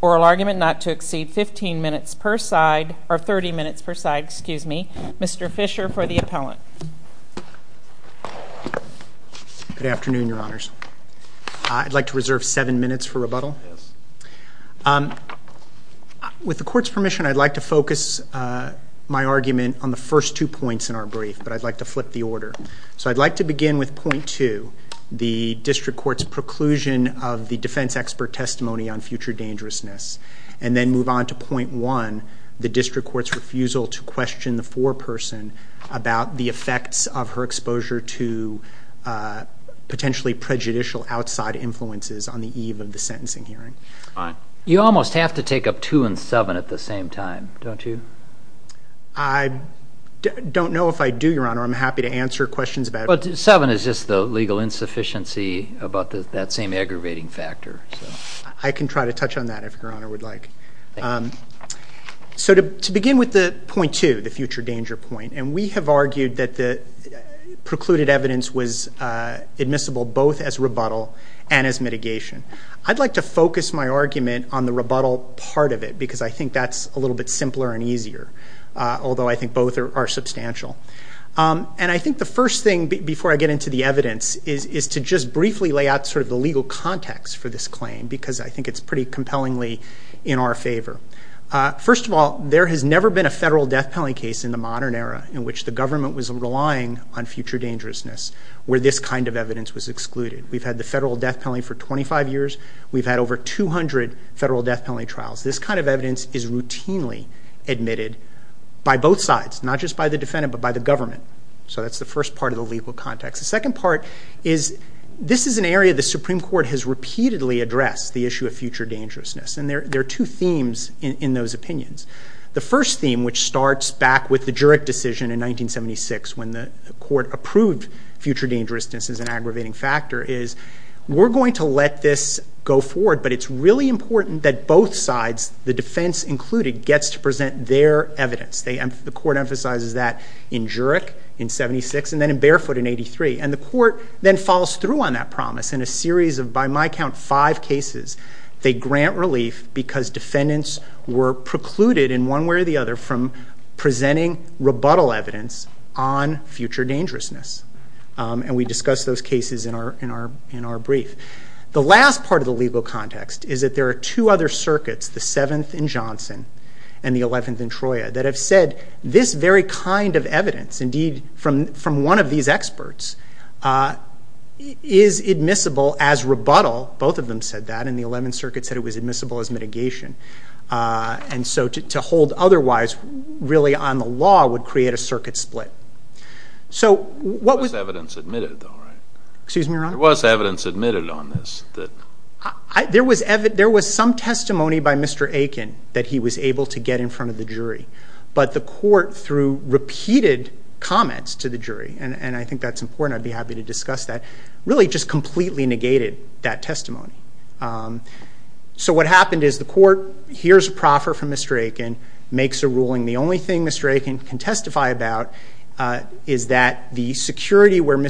oral argument not to exceed 15 minutes per side, or 30 minutes per side, excuse me. Mr. Fisher for the appellant. Good afternoon, your honors. I'd like to reserve seven minutes for rebuttal. With the court's permission, I'd like to focus my argument on the first two points in our brief. I'd like to flip the order. So I'd like to begin with point two, the district court's preclusion of the defense expert testimony on future dangerousness. And then move on to point one, the district court's refusal to question the foreperson about the effects of her exposure to potentially prejudicial outside influences on the eve of the sentencing hearing. You almost have to take up two and seven at the same time, don't you? I don't know if I do, your honor. I'm happy to answer questions about it. But seven is just the legal insufficiency about that same aggravating factor. I can try to touch on that if your honor would like. So to begin with the point two, the future danger point, and we have argued that the precluded evidence was admissible both as rebuttal and as mitigation. I'd like to focus my argument on the rebuttal part of it because I think that's a little bit simpler and easier. Although I think both are substantial. And I think the first thing before I get into the evidence is to just briefly lay out sort of the legal context for this claim because I think it's pretty compellingly in our favor. First of all, there has never been a federal death penalty case in the modern era in which the government was relying on future dangerousness where this kind of evidence was excluded. We've had the federal death penalty for 25 years. We've had over 200 federal death penalty trials. This kind of evidence is routinely admitted by both sides, not just by the defendant but by the government. So that's the first part of the legal context. The second part is this is an area the Supreme Court has repeatedly addressed, the issue of future dangerousness. And there are two themes in those opinions. The first theme, which starts back with the Jurek decision in 1976 when the court approved future dangerousness as an aggravating factor, is we're going to let this go forward, but it's really important that both sides, the defense included, gets to present their evidence. The court emphasizes that in Jurek in 76 and then in Barefoot in 83. And the court then follows through on that promise in a series of, by my count, five cases. They grant relief because defendants were precluded in one way or the other from presenting rebuttal evidence on future dangerousness. And we discussed those cases in our brief. The last part of the legal context is that there are two other circuits, the 7th in Johnson and the 11th in Troya, that have said this very kind of evidence, indeed from one of these experts, is admissible as rebuttal. Both of them said that. And the 11th circuit said it was admissible as mitigation. And so to hold otherwise really on the law would create a circuit split. So what was- There was evidence admitted, though, right? Excuse me, Your Honor? There was evidence admitted on this that- There was some testimony by Mr. Aiken that he was able to get in front of the jury. But the court, through repeated comments to the jury, and I think that's important, I'd be happy to discuss that, really just completely negated that testimony. So what happened is the court hears a proffer from Mr. Aiken, makes a ruling. The only thing Mr. Aiken can testify about is that the security where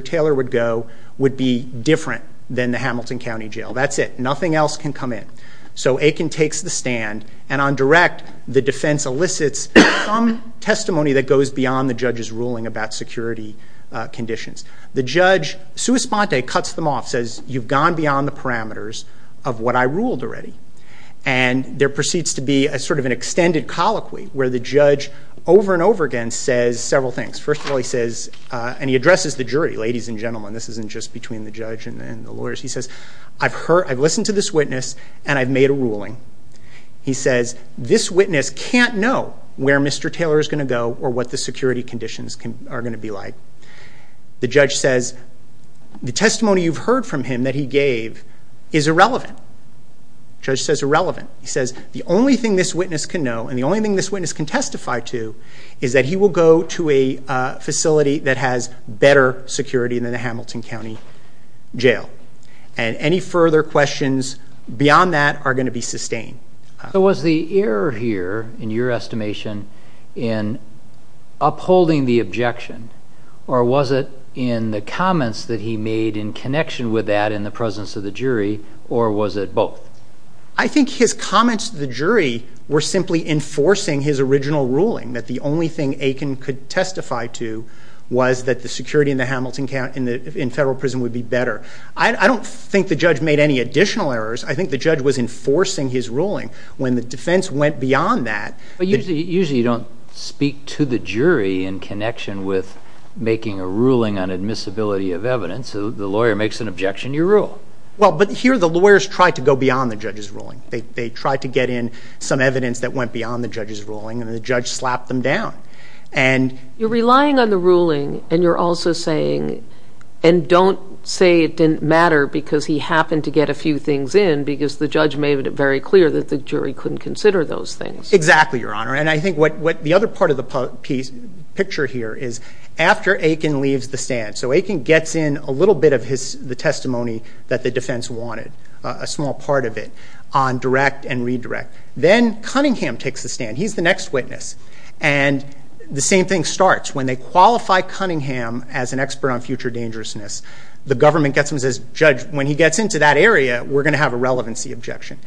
Taylor would go would be different than the Hamilton County Jail. That's it. Nothing else can come in. So Aiken takes the stand. And on direct, the defense elicits some testimony that goes beyond the judge's ruling about security conditions. The judge, sua sponte, cuts them off, says, you've gone beyond the parameters of what I ruled already. And there proceeds to be a sort of an extended colloquy where the judge over and over again says several things. First of all, he says, and he addresses the jury, ladies and gentlemen, this isn't just between the judge and the lawyers. He says, I've heard, I've listened to this witness, and I've made a ruling. He says, this witness can't know where Mr. Taylor is going to go or what the security conditions are going to be like. The judge says, the testimony you've heard from him that he gave is irrelevant. Judge says irrelevant. He says, the only thing this witness can know, and the only thing this witness can testify to, is that he will go to a facility that has better security than the Hamilton County Jail. And any further questions beyond that are going to be sustained. So was the error here, in your estimation, in upholding the objection, or was it in the comments that he made in connection with that in the presence of the jury, or was it both? I think his comments to the jury were simply enforcing his original ruling, that the only thing Aiken could testify to was that the security in the Hamilton County, in federal prison, would be better. I don't think the judge made any additional errors. I think the judge was enforcing his ruling. When the defense went beyond that... But usually you don't speak to the jury in connection with making a ruling on admissibility of evidence. The lawyer makes an objection, you rule. Well, but here the lawyers tried to go beyond the judge's ruling. They tried to get in some evidence that went beyond the judge's ruling, and the judge slapped them down. You're relying on the ruling, and you're also saying, and don't say it didn't matter because he happened to get a few things in, because the judge made it very clear that the jury couldn't consider those things. Exactly, Your Honor, and I think what the other part of the picture here is, after Aiken leaves the stand, so Aiken gets in a little bit of the testimony that the defense wanted, a small part of it, on direct and redirect. Then Cunningham takes the stand. He's the next witness, and the same thing starts. When they qualify Cunningham as an expert on future dangerousness, the government gets him and says, Judge, when he gets into that area, we're going to have a relevancy objection.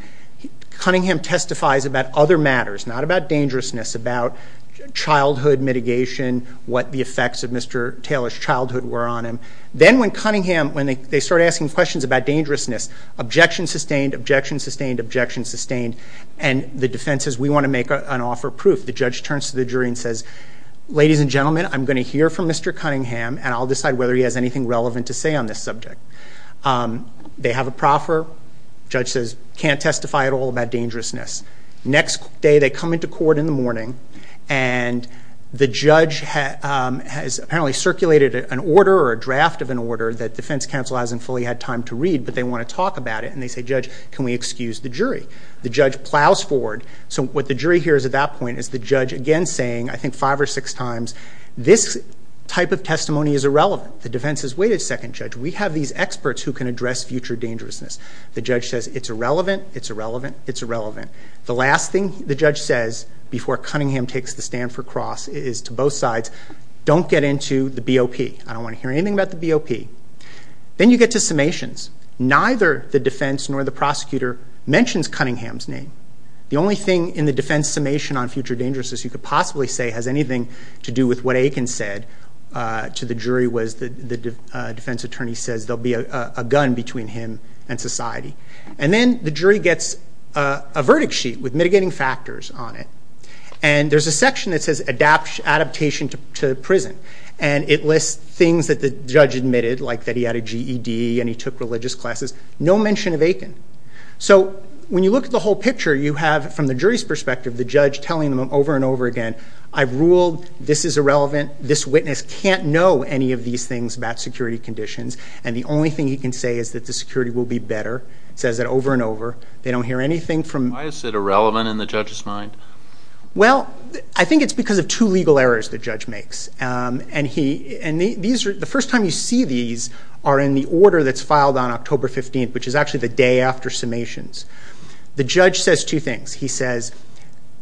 Cunningham testifies about other matters, not about dangerousness, about childhood mitigation, what the effects of Mr. Taylor's childhood were on him. Then when Cunningham, when they start asking questions about dangerousness, objection sustained, objection sustained, objection sustained, and the defense says, We want to make an offer of proof. The judge turns to the jury and says, Ladies and gentlemen, I'm going to hear from Mr. Cunningham, and I'll decide whether he has anything relevant to say on this subject. They have a proffer. Judge says, Can't testify at all about dangerousness. Next day, they come into court in the morning, and the judge has apparently circulated an order or a draft of an order that defense counsel hasn't fully had time to read, but they want to talk about it, and they say, Judge, can we excuse the jury? The judge plows forward. So what the jury hears at that point is the judge again saying, I think five or six times, This type of testimony is irrelevant. The defense says, Wait a second, Judge. We have these experts who can address future dangerousness. The judge says, It's irrelevant, it's irrelevant, it's irrelevant. The last thing the judge says before Cunningham takes the stand for Cross is to both sides, Don't get into the BOP. I don't want to hear anything about the BOP. Then you get to summations. Neither the defense nor the prosecutor mentions Cunningham's name. The only thing in the defense summation on future dangerousness you could possibly say has anything to do with what Aiken said to the jury was the defense attorney says there will be a gun between him and society. Then the jury gets a verdict sheet with mitigating factors on it, and there's a section that says adaptation to prison, and it lists things that the judge admitted, like that he had a GED and he took religious classes, no mention of Aiken. So when you look at the whole picture, you have, from the jury's perspective, the judge telling them over and over again, I've ruled, this is irrelevant, this witness can't know any of these things about security conditions, and the only thing he can say is that the security will be better. He says that over and over. They don't hear anything from Why is it irrelevant in the judge's mind? Well, I think it's because of two legal errors the judge makes. The first time you see these are in the order that's filed on October 15th, which is actually the day after summations. The judge says two things. He says,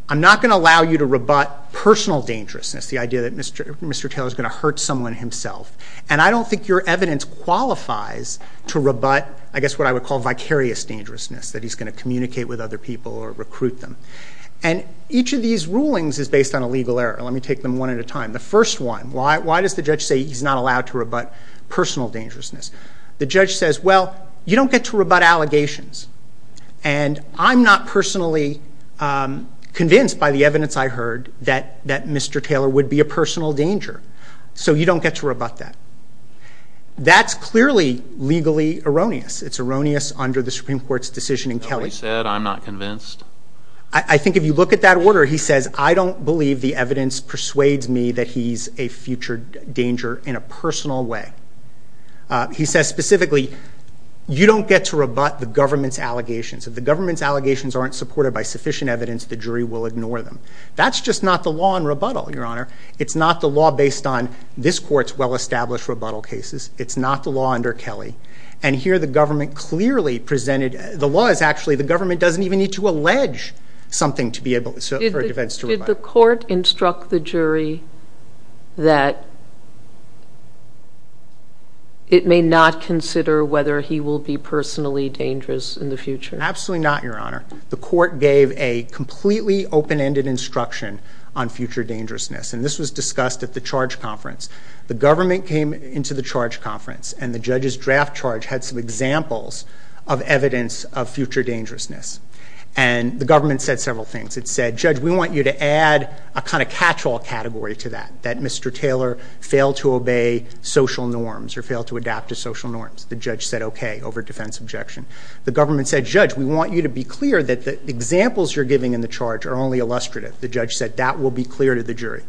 I'm not going to allow you to rebut personal dangerousness, the idea that Mr. Taylor is going to hurt someone himself, and I don't think your evidence qualifies to rebut, I guess, what I would call vicarious dangerousness, that he's going to communicate with other people or recruit them. And each of these rulings is based on a legal error. Let me take them one at a time. The first one, why does the judge say he's not allowed to rebut personal dangerousness? The judge says, well, you don't get to rebut allegations, and I'm not personally convinced by the evidence I heard that Mr. Taylor would be a personal danger, so you don't get to rebut that. That's clearly legally erroneous. It's erroneous under the Supreme Court's decision in Kelly. Nobody said I'm not convinced. I think if you look at that order, he says, I don't believe the evidence persuades me that he's a future danger in a personal way. He says specifically, you don't get to rebut the government's allegations. If the government's allegations aren't supported by sufficient evidence, the jury will ignore them. That's just not the law in rebuttal, Your Honor. It's not the law based on this court's well-established rebuttal cases. It's not the law under Kelly. And here the government clearly presented, the law is actually the government doesn't even need to allege something to be able for defense to rebut. Did the court instruct the jury that it may not consider whether he will be personally dangerous in the future? Absolutely not, Your Honor. The court gave a completely open-ended instruction on future dangerousness, and this was discussed at the charge conference. The government came into the charge conference, and the judge's draft charge had some examples of evidence of future dangerousness. And the government said several things. It said, Judge, we want you to add a kind of catch-all category to that, that Mr. Taylor failed to obey social norms or failed to adapt to social norms. The judge said okay over defense objection. The government said, Judge, we want you to be clear that the examples you're giving in the charge are only illustrative. The judge said that will be clear to the jury.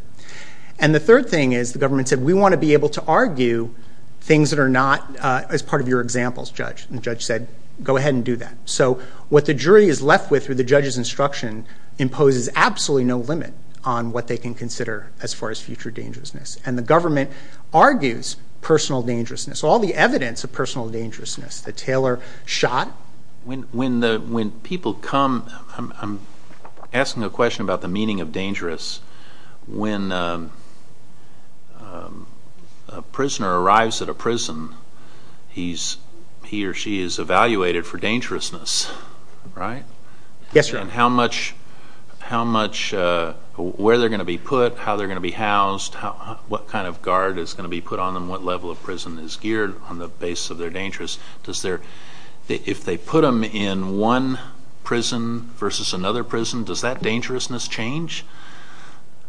And the third thing is the government said, we want to be able to argue things that are not as part of your examples, Judge. And the judge said, go ahead and do that. So what the jury is left with through the judge's instruction imposes absolutely no limit on what they can consider as far as future dangerousness. And the government argues personal dangerousness, all the evidence of personal dangerousness that Taylor shot. When people come, I'm asking a question about the meaning of dangerous. When a prisoner arrives at a prison, he or she is evaluated for dangerousness, right? Yes, sir. And how much, where they're going to be put, how they're going to be housed, what kind of guard is going to be put on them, what level of prison is geared on the basis of their dangerous. If they put them in one prison versus another prison, does that dangerousness change?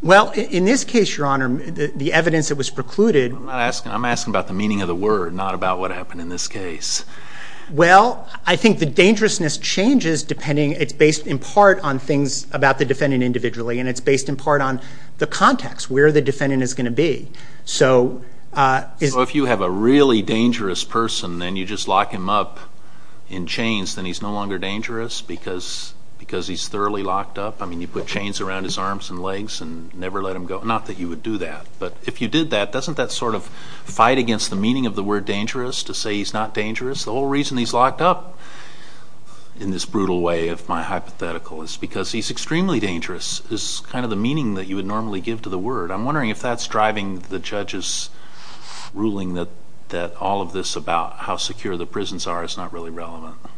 Well, in this case, Your Honor, the evidence that was precluded. I'm asking about the meaning of the word, not about what happened in this case. Well, I think the dangerousness changes depending, it's based in part on things about the defendant individually, and it's based in part on the context, where the defendant is going to be. So if you have a really dangerous person, then you just lock him up in chains, then he's no longer dangerous because he's thoroughly locked up? I mean, you put chains around his arms and legs and never let him go? Not that you would do that, but if you did that, doesn't that sort of fight against the meaning of the word dangerous, to say he's not dangerous? The whole reason he's locked up, in this brutal way of my hypothetical, is because he's extremely dangerous, is kind of the meaning that you would normally give to the word. I'm wondering if that's driving the judge's ruling that all of this about how secure the prisons are is not really relevant. Do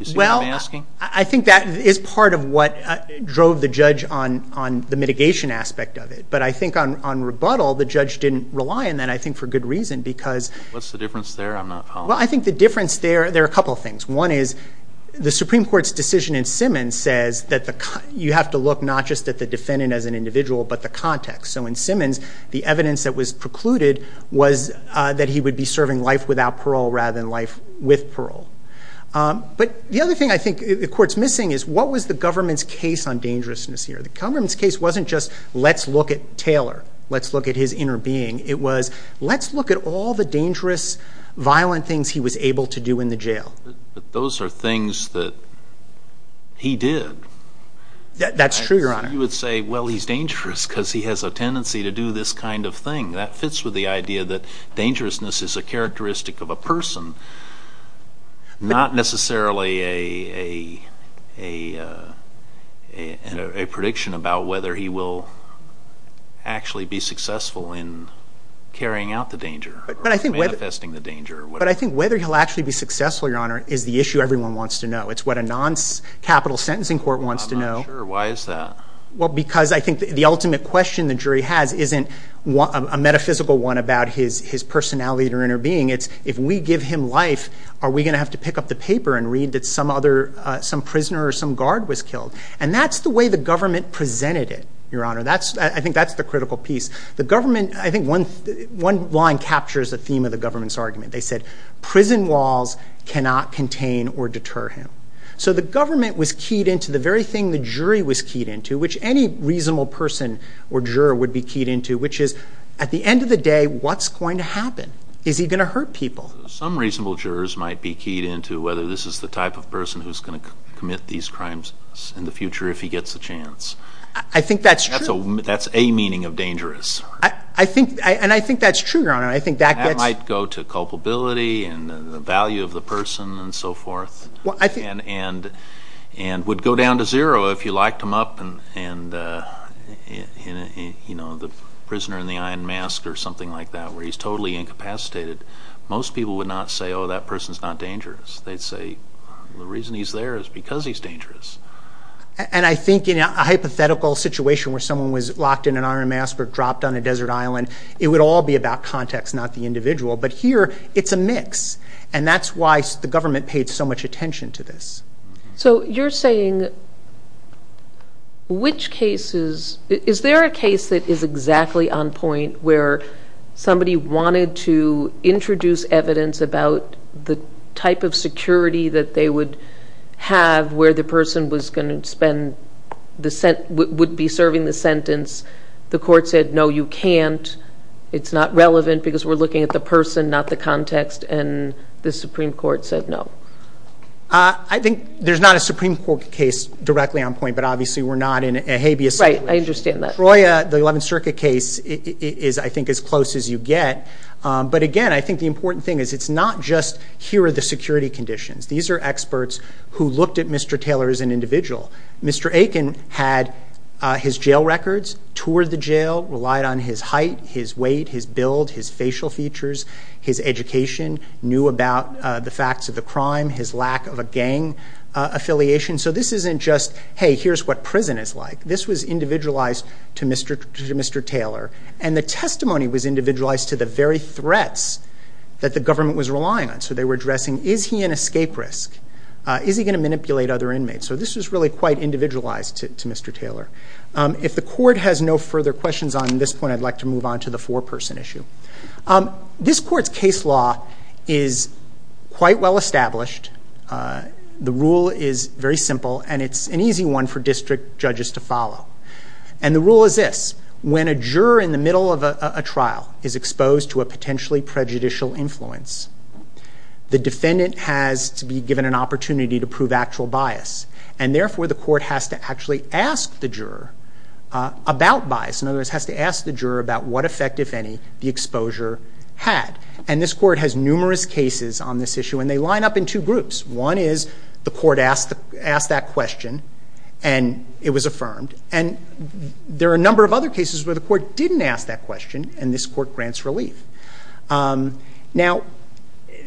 you see what I'm asking? Well, I think that is part of what drove the judge on the mitigation aspect of it. But I think on rebuttal, the judge didn't rely on that, I think, for good reason. What's the difference there? I'm not following. Well, I think the difference there, there are a couple of things. One is, the Supreme Court's decision in Simmons says that you have to look not just at the defendant as an individual, but the context. So in Simmons, the evidence that was precluded was that he would be serving life without parole rather than life with parole. But the other thing I think the Court's missing is, what was the government's case on dangerousness here? The government's case wasn't just, let's look at Taylor, let's look at his inner being. It was, let's look at all the dangerous, violent things he was able to do in the jail. But those are things that he did. That's true, Your Honor. You would say, well, he's dangerous because he has a tendency to do this kind of thing. That fits with the idea that dangerousness is a characteristic of a person, not necessarily a prediction about whether he will actually be successful in carrying out the danger or manifesting the danger. But I think whether he'll actually be successful, Your Honor, is the issue everyone wants to know. It's what a non-capital sentencing court wants to know. I'm not sure. Why is that? Well, because I think the ultimate question the jury has isn't a metaphysical one about his personality or inner being. It's, if we give him life, are we going to have to pick up the paper and read that some prisoner or some guard was killed? And that's the way the government presented it, Your Honor. I think that's the critical piece. The government, I think one line captures the theme of the government's argument. They said, prison walls cannot contain or deter him. So the government was keyed into the very thing the jury was keyed into, which any reasonable person or juror would be keyed into, which is, at the end of the day, what's going to happen? Is he going to hurt people? Some reasonable jurors might be keyed into whether this is the type of person who's going to commit these crimes in the future if he gets a chance. I think that's true. That's a meaning of dangerous. And I think that's true, Your Honor. That might go to culpability and the value of the person and so forth and would go down to zero if you locked him up in the prisoner in the iron mask or something like that where he's totally incapacitated. Most people would not say, oh, that person's not dangerous. They'd say, the reason he's there is because he's dangerous. And I think in a hypothetical situation where someone was locked in an iron mask or dropped on a desert island, it would all be about context, not the individual. But here it's a mix, and that's why the government paid so much attention to this. So you're saying which cases – is there a case that is exactly on point where somebody wanted to introduce evidence about the type of security that they would have where the person would be serving the sentence, the court said, no, you can't, it's not relevant because we're looking at the person, not the context, and the Supreme Court said no? I think there's not a Supreme Court case directly on point, but obviously we're not in a habeas situation. Right, I understand that. Troyer, the 11th Circuit case, is I think as close as you get. But again, I think the important thing is it's not just here are the security conditions. These are experts who looked at Mr. Taylor as an individual. Mr. Aiken had his jail records, toured the jail, relied on his height, his weight, his build, his facial features, his education, knew about the facts of the crime, his lack of a gang affiliation. So this isn't just, hey, here's what prison is like. This was individualized to Mr. Taylor, and the testimony was individualized to the very threats that the government was relying on. So they were addressing is he an escape risk, is he going to manipulate other inmates? So this was really quite individualized to Mr. Taylor. If the court has no further questions on this point, I'd like to move on to the four-person issue. This court's case law is quite well established. The rule is very simple, and it's an easy one for district judges to follow. And the rule is this. When a juror in the middle of a trial is exposed to a potentially prejudicial influence, the defendant has to be given an opportunity to prove actual bias, and therefore the court has to actually ask the juror about bias. In other words, has to ask the juror about what effect, if any, the exposure had. And this court has numerous cases on this issue, and they line up in two groups. One is the court asked that question, and it was affirmed. And there are a number of other cases where the court didn't ask that question, and this court grants relief. Now,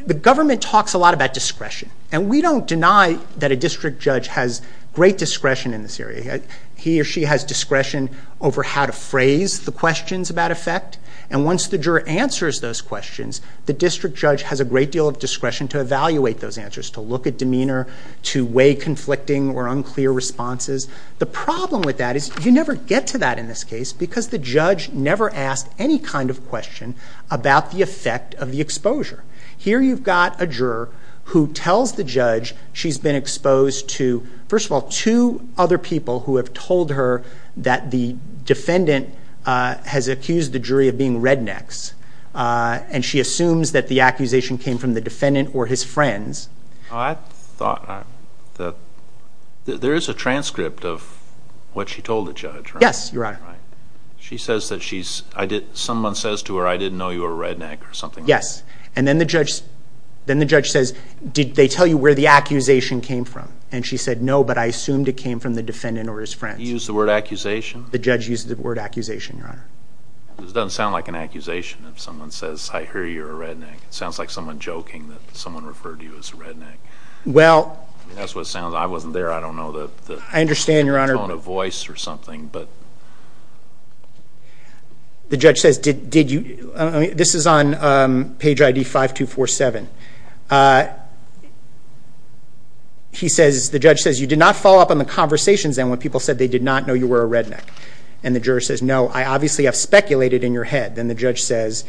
the government talks a lot about discretion. And we don't deny that a district judge has great discretion in this area. He or she has discretion over how to phrase the questions about effect. And once the juror answers those questions, the district judge has a great deal of discretion to evaluate those answers, to look at demeanor, to weigh conflicting or unclear responses. The problem with that is you never get to that in this case, because the judge never asked any kind of question about the effect of the exposure. Here you've got a juror who tells the judge she's been exposed to, first of all, two other people who have told her that the defendant has accused the jury of being rednecks. And she assumes that the accusation came from the defendant or his friends. I thought that there is a transcript of what she told the judge, right? Yes, Your Honor. She says that she's—someone says to her, I didn't know you were a redneck or something like that. Yes. And then the judge says, did they tell you where the accusation came from? And she said, no, but I assumed it came from the defendant or his friends. You used the word accusation? The judge used the word accusation, Your Honor. It doesn't sound like an accusation if someone says, I hear you're a redneck. It sounds like someone joking that someone referred to you as a redneck. Well— That's what it sounds—I wasn't there. I don't know the— I understand, Your Honor. —tone of voice or something, but— The judge says, did you—this is on page ID 5247. He says—the judge says, you did not follow up on the conversations when people said they did not know you were a redneck. And the juror says, no, I obviously have speculated in your head. Then the judge says,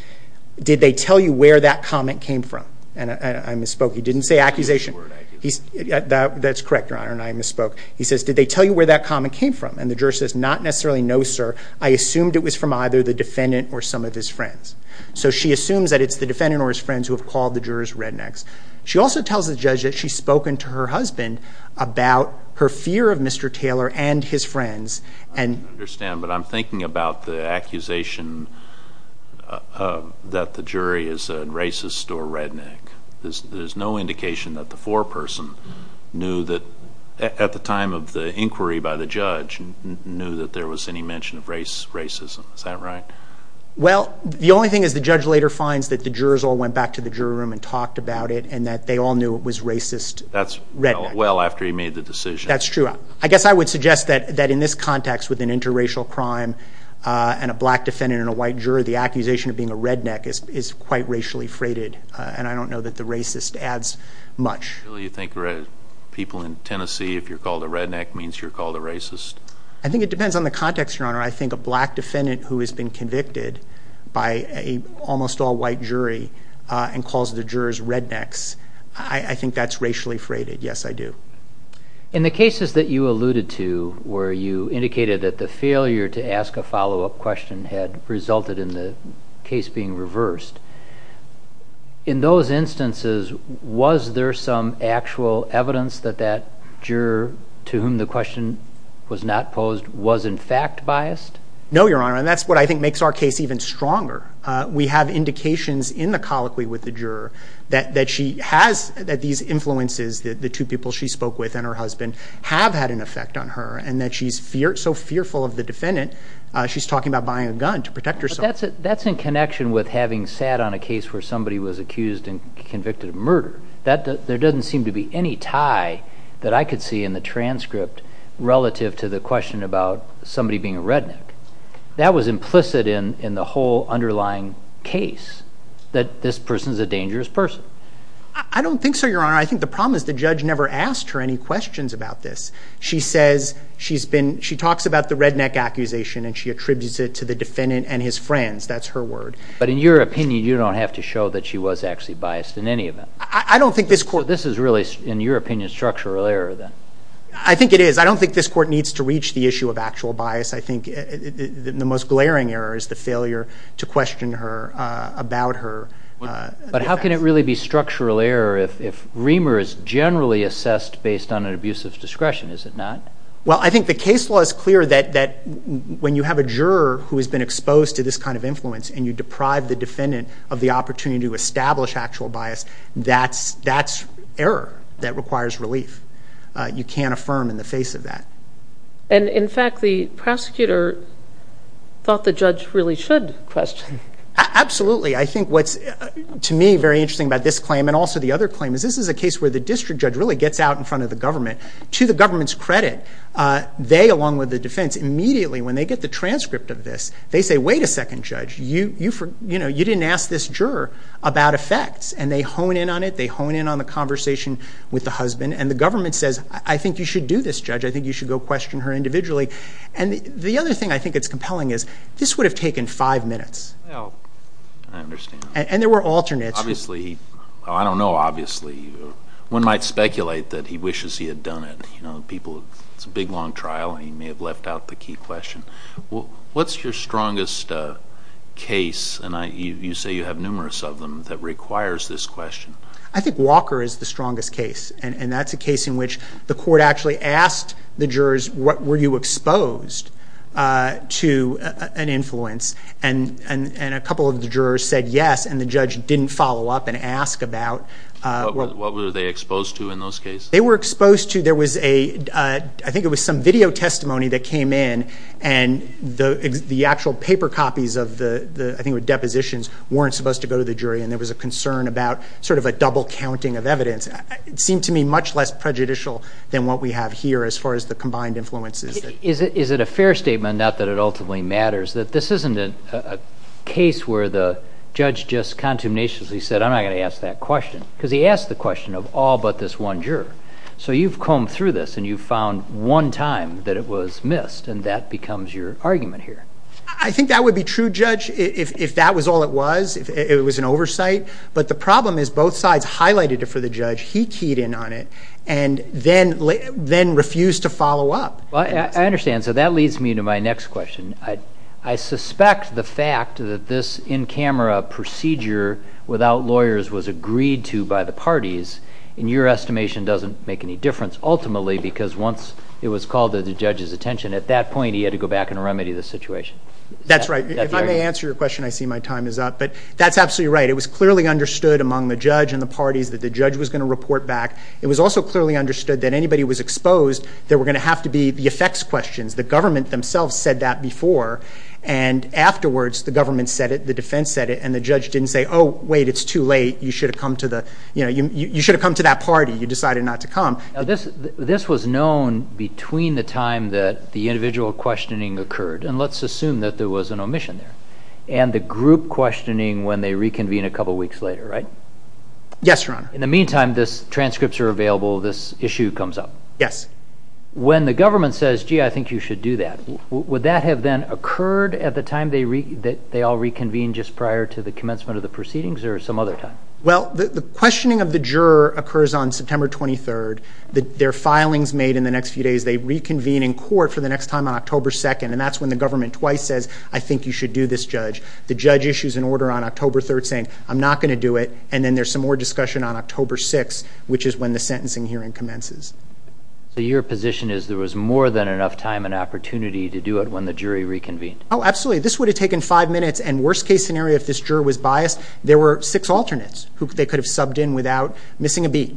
did they tell you where that comment came from? And I misspoke. He didn't say accusation. He used the word accusation. That's correct, Your Honor, and I misspoke. He says, did they tell you where that comment came from? And the juror says, not necessarily, no, sir. I assumed it was from either the defendant or some of his friends. So she assumes that it's the defendant or his friends who have called the jurors rednecks. She also tells the judge that she's spoken to her husband about her fear of Mr. Taylor and his friends. I don't understand, but I'm thinking about the accusation that the jury is a racist or redneck. There's no indication that the foreperson knew that at the time of the inquiry by the judge knew that there was any mention of racism. Is that right? Well, the only thing is the judge later finds that the jurors all went back to the jury room and talked about it and that they all knew it was racist redneck. That's well after he made the decision. That's true. I guess I would suggest that in this context with an interracial crime and a black defendant and a white juror, the accusation of being a redneck is quite racially freighted, and I don't know that the racist adds much. So you think people in Tennessee, if you're called a redneck, means you're called a racist? I think it depends on the context, Your Honor. I think a black defendant who has been convicted by an almost all-white jury and calls the jurors rednecks, I think that's racially freighted. Yes, I do. In the cases that you alluded to where you indicated that the failure to ask a follow-up question had resulted in the case being reversed, in those instances, was there some actual evidence that that juror to whom the question was not posed was in fact biased? No, Your Honor, and that's what I think makes our case even stronger. We have indications in the colloquy with the juror that she has these influences, that the two people she spoke with and her husband have had an effect on her, and that she's so fearful of the defendant, she's talking about buying a gun to protect herself. That's in connection with having sat on a case where somebody was accused and convicted of murder. There doesn't seem to be any tie that I could see in the transcript relative to the question about somebody being a redneck. That was implicit in the whole underlying case, that this person's a dangerous person. I don't think so, Your Honor. I think the problem is the judge never asked her any questions about this. She talks about the redneck accusation, and she attributes it to the defendant and his friends. That's her word. But in your opinion, you don't have to show that she was actually biased in any event. I don't think this court— So this is really, in your opinion, structural error, then. I think it is. I don't think this court needs to reach the issue of actual bias. I think the most glaring error is the failure to question her about her defense. But how can it really be structural error if Remer is generally assessed based on an abusive discretion? Is it not? Well, I think the case law is clear that when you have a juror who has been exposed to this kind of influence and you deprive the defendant of the opportunity to establish actual bias, that's error that requires relief. You can't affirm in the face of that. And, in fact, the prosecutor thought the judge really should question. Absolutely. I think what's, to me, very interesting about this claim, and also the other claim, is this is a case where the district judge really gets out in front of the government. To the government's credit, they, along with the defense, immediately, when they get the transcript of this, they say, Wait a second, Judge, you didn't ask this juror about effects. And they hone in on it. They hone in on the conversation with the husband. And the government says, I think you should do this, Judge. I think you should go question her individually. And the other thing I think that's compelling is this would have taken five minutes. I understand. And there were alternates. Obviously. I don't know, obviously. One might speculate that he wishes he had done it. It's a big, long trial, and he may have left out the key question. What's your strongest case, and you say you have numerous of them, that requires this question? I think Walker is the strongest case, and that's a case in which the court actually asked the jurors, What were you exposed to an influence? And a couple of the jurors said yes, and the judge didn't follow up and ask about. What were they exposed to in those cases? They were exposed to, there was a, I think it was some video testimony that came in, and the actual paper copies of the, I think it was depositions, weren't supposed to go to the jury, and there was a concern about sort of a double counting of evidence. It seemed to me much less prejudicial than what we have here as far as the combined influences. Is it a fair statement, not that it ultimately matters, that this isn't a case where the judge just contumatiously said, I'm not going to ask that question? Because he asked the question of all but this one juror. So you've combed through this, and you've found one time that it was missed, and that becomes your argument here. I think that would be true, Judge, if that was all it was, if it was an oversight. But the problem is both sides highlighted it for the judge, he keyed in on it, and then refused to follow up. I understand. So that leads me to my next question. I suspect the fact that this in-camera procedure without lawyers was agreed to by the parties, in your estimation, doesn't make any difference, ultimately because once it was called to the judge's attention, at that point he had to go back and remedy the situation. That's right. If I may answer your question, I see my time is up. But that's absolutely right. It was clearly understood among the judge and the parties that the judge was going to report back. It was also clearly understood that anybody who was exposed, there were going to have to be the effects questions. The government themselves said that before, and afterwards the government said it, the defense said it, and the judge didn't say, oh, wait, it's too late. You should have come to that party. You decided not to come. This was known between the time that the individual questioning occurred, and let's assume that there was an omission there. And the group questioning when they reconvene a couple weeks later, right? Yes, Your Honor. In the meantime, these transcripts are available. This issue comes up. Yes. When the government says, gee, I think you should do that, would that have then occurred at the time that they all reconvened just prior to the commencement of the proceedings, or some other time? Well, the questioning of the juror occurs on September 23rd. Their filing is made in the next few days. They reconvene in court for the next time on October 2nd, and that's when the government twice says, I think you should do this, judge. The judge issues an order on October 3rd saying, I'm not going to do it, and then there's some more discussion on October 6th, which is when the sentencing hearing commences. So your position is there was more than enough time and opportunity to do it when the jury reconvened? Oh, absolutely. This would have taken five minutes, and worst-case scenario, if this juror was biased, there were six alternates who they could have subbed in without missing a beat.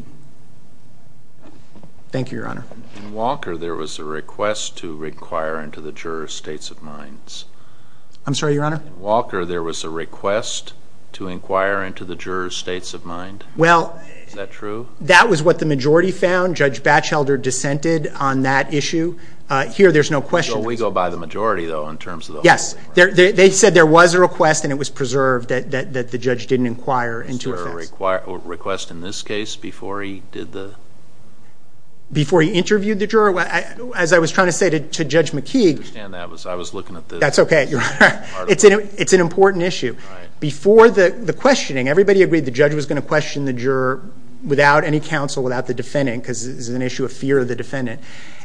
Thank you, Your Honor. In Walker, there was a request to inquire into the juror's states of mind. I'm sorry, Your Honor? In Walker, there was a request to inquire into the juror's states of mind. Is that true? Well, that was what the majority found. Judge Batchelder dissented on that issue. Here, there's no question. So we go by the majority, though, in terms of the whole thing? Yes. They said there was a request, and it was preserved that the judge didn't inquire into it. Was there a request in this case before he did the? Before he interviewed the juror? As I was trying to say to Judge McKeague. I understand that. I was looking at this. That's okay, Your Honor. It's an important issue. All right. Before the questioning, everybody agreed the judge was going to question the juror without any counsel, without the defendant, because this is an issue of fear of the defendant.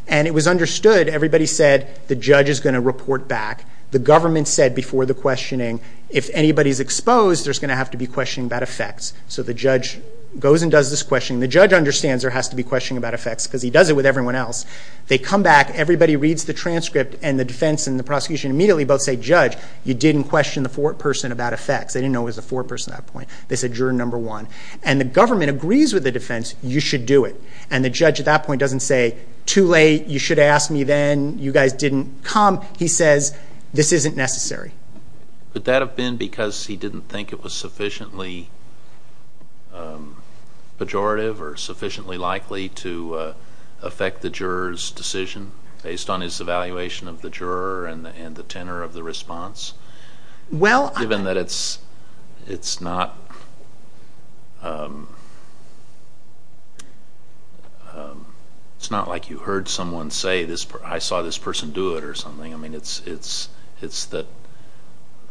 And it was understood. Everybody said the judge is going to report back. The government said before the questioning, if anybody's exposed, there's going to have to be questioning about effects. So the judge goes and does this questioning. The judge understands there has to be questioning about effects because he does it with everyone else. They come back. Everybody reads the transcript, and the defense and the prosecution immediately both say, Judge, you didn't question the foreperson about effects. They didn't know it was the foreperson at that point. They said, Juror number one. And the government agrees with the defense. You should do it. And the judge at that point doesn't say, too late. You should have asked me then. You guys didn't come. He says, this isn't necessary. Would that have been because he didn't think it was sufficiently pejorative or sufficiently likely to affect the juror's decision based on his evaluation of the juror and the tenor of the response, given that it's not like you heard someone say, I saw this person do it or something? I mean, it's that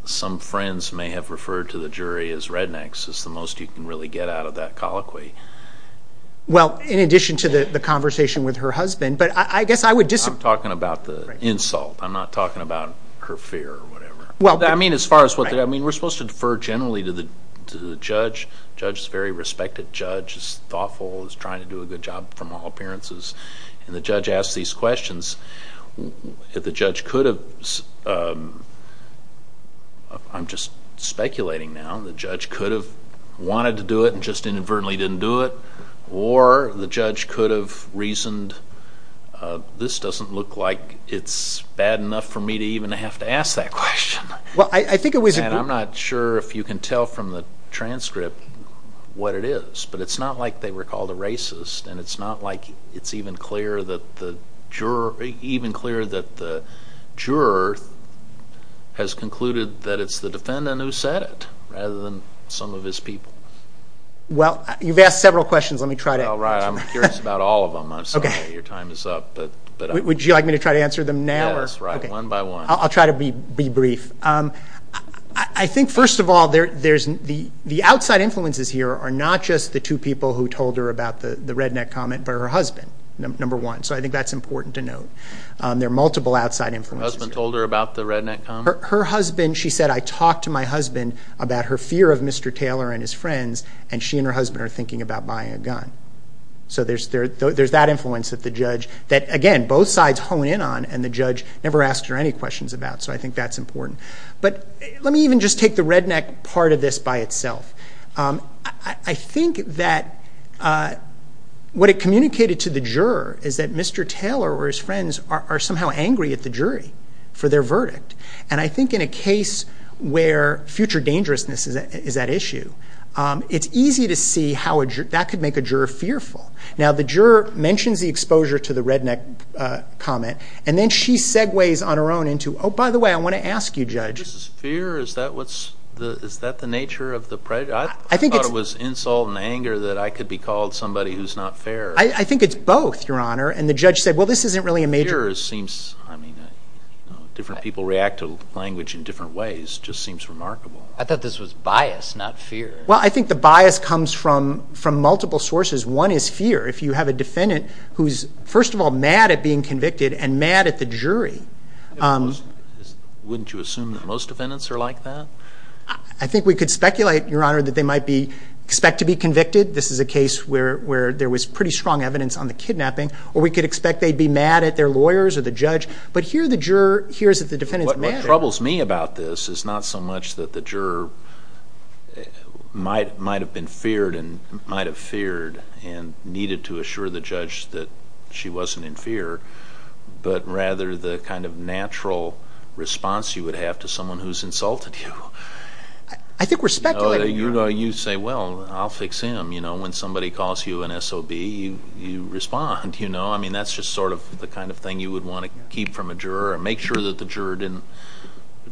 some friends may have referred to the jury as rednecks. It's the most you can really get out of that colloquy. Well, in addition to the conversation with her husband. But I guess I would disagree. I'm talking about the insult. I'm not talking about her fear or whatever. I mean, we're supposed to defer generally to the judge. The judge is a very respected judge. He's thoughtful. He's trying to do a good job from all appearances. And the judge asks these questions. If the judge could have, I'm just speculating now, the judge could have wanted to do it and just inadvertently didn't do it, or the judge could have reasoned, this doesn't look like it's bad enough for me to even have to ask that question. And I'm not sure if you can tell from the transcript what it is. But it's not like they were called a racist and it's not like it's even clear that the juror has concluded that it's the defendant who said it rather than some of his people. Well, you've asked several questions. Let me try to answer them. Well, right. I'm curious about all of them. Your time is up. Would you like me to try to answer them now? Yes, right, one by one. I'll try to be brief. I think, first of all, the outside influences here are not just the two people who told her about the redneck comment, but her husband, number one. So I think that's important to note. There are multiple outside influences. Her husband told her about the redneck comment? Her husband, she said, I talked to my husband about her fear of Mr. Taylor and his friends, and she and her husband are thinking about buying a gun. So there's that influence that the judge, that, again, both sides hone in on and the judge never asks her any questions about. So I think that's important. But let me even just take the redneck part of this by itself. I think that what it communicated to the juror is that Mr. Taylor or his friends are somehow angry at the jury for their verdict. And I think in a case where future dangerousness is at issue, it's easy to see how that could make a juror fearful. Now, the juror mentions the exposure to the redneck comment, and then she segues on her own into, oh, by the way, I want to ask you, Judge. Is this fear? Is that the nature of the prejudice? I thought it was insult and anger that I could be called somebody who's not fair. I think it's both, Your Honor. And the judge said, well, this isn't really a major. I mean, different people react to language in different ways. It just seems remarkable. I thought this was bias, not fear. Well, I think the bias comes from multiple sources. One is fear. If you have a defendant who's, first of all, mad at being convicted and mad at the jury. Wouldn't you assume that most defendants are like that? I think we could speculate, Your Honor, that they might expect to be convicted. This is a case where there was pretty strong evidence on the kidnapping. Or we could expect they'd be mad at their lawyers or the judge. But here the juror hears that the defendant's mad. What troubles me about this is not so much that the juror might have been feared and needed to assure the judge that she wasn't in fear, but rather the kind of natural response you would have to someone who's insulted you. I think we're speculating. You say, well, I'll fix him. When somebody calls you an SOB, you respond. I mean, that's just sort of the kind of thing you would want to keep from a juror and make sure that the juror didn't.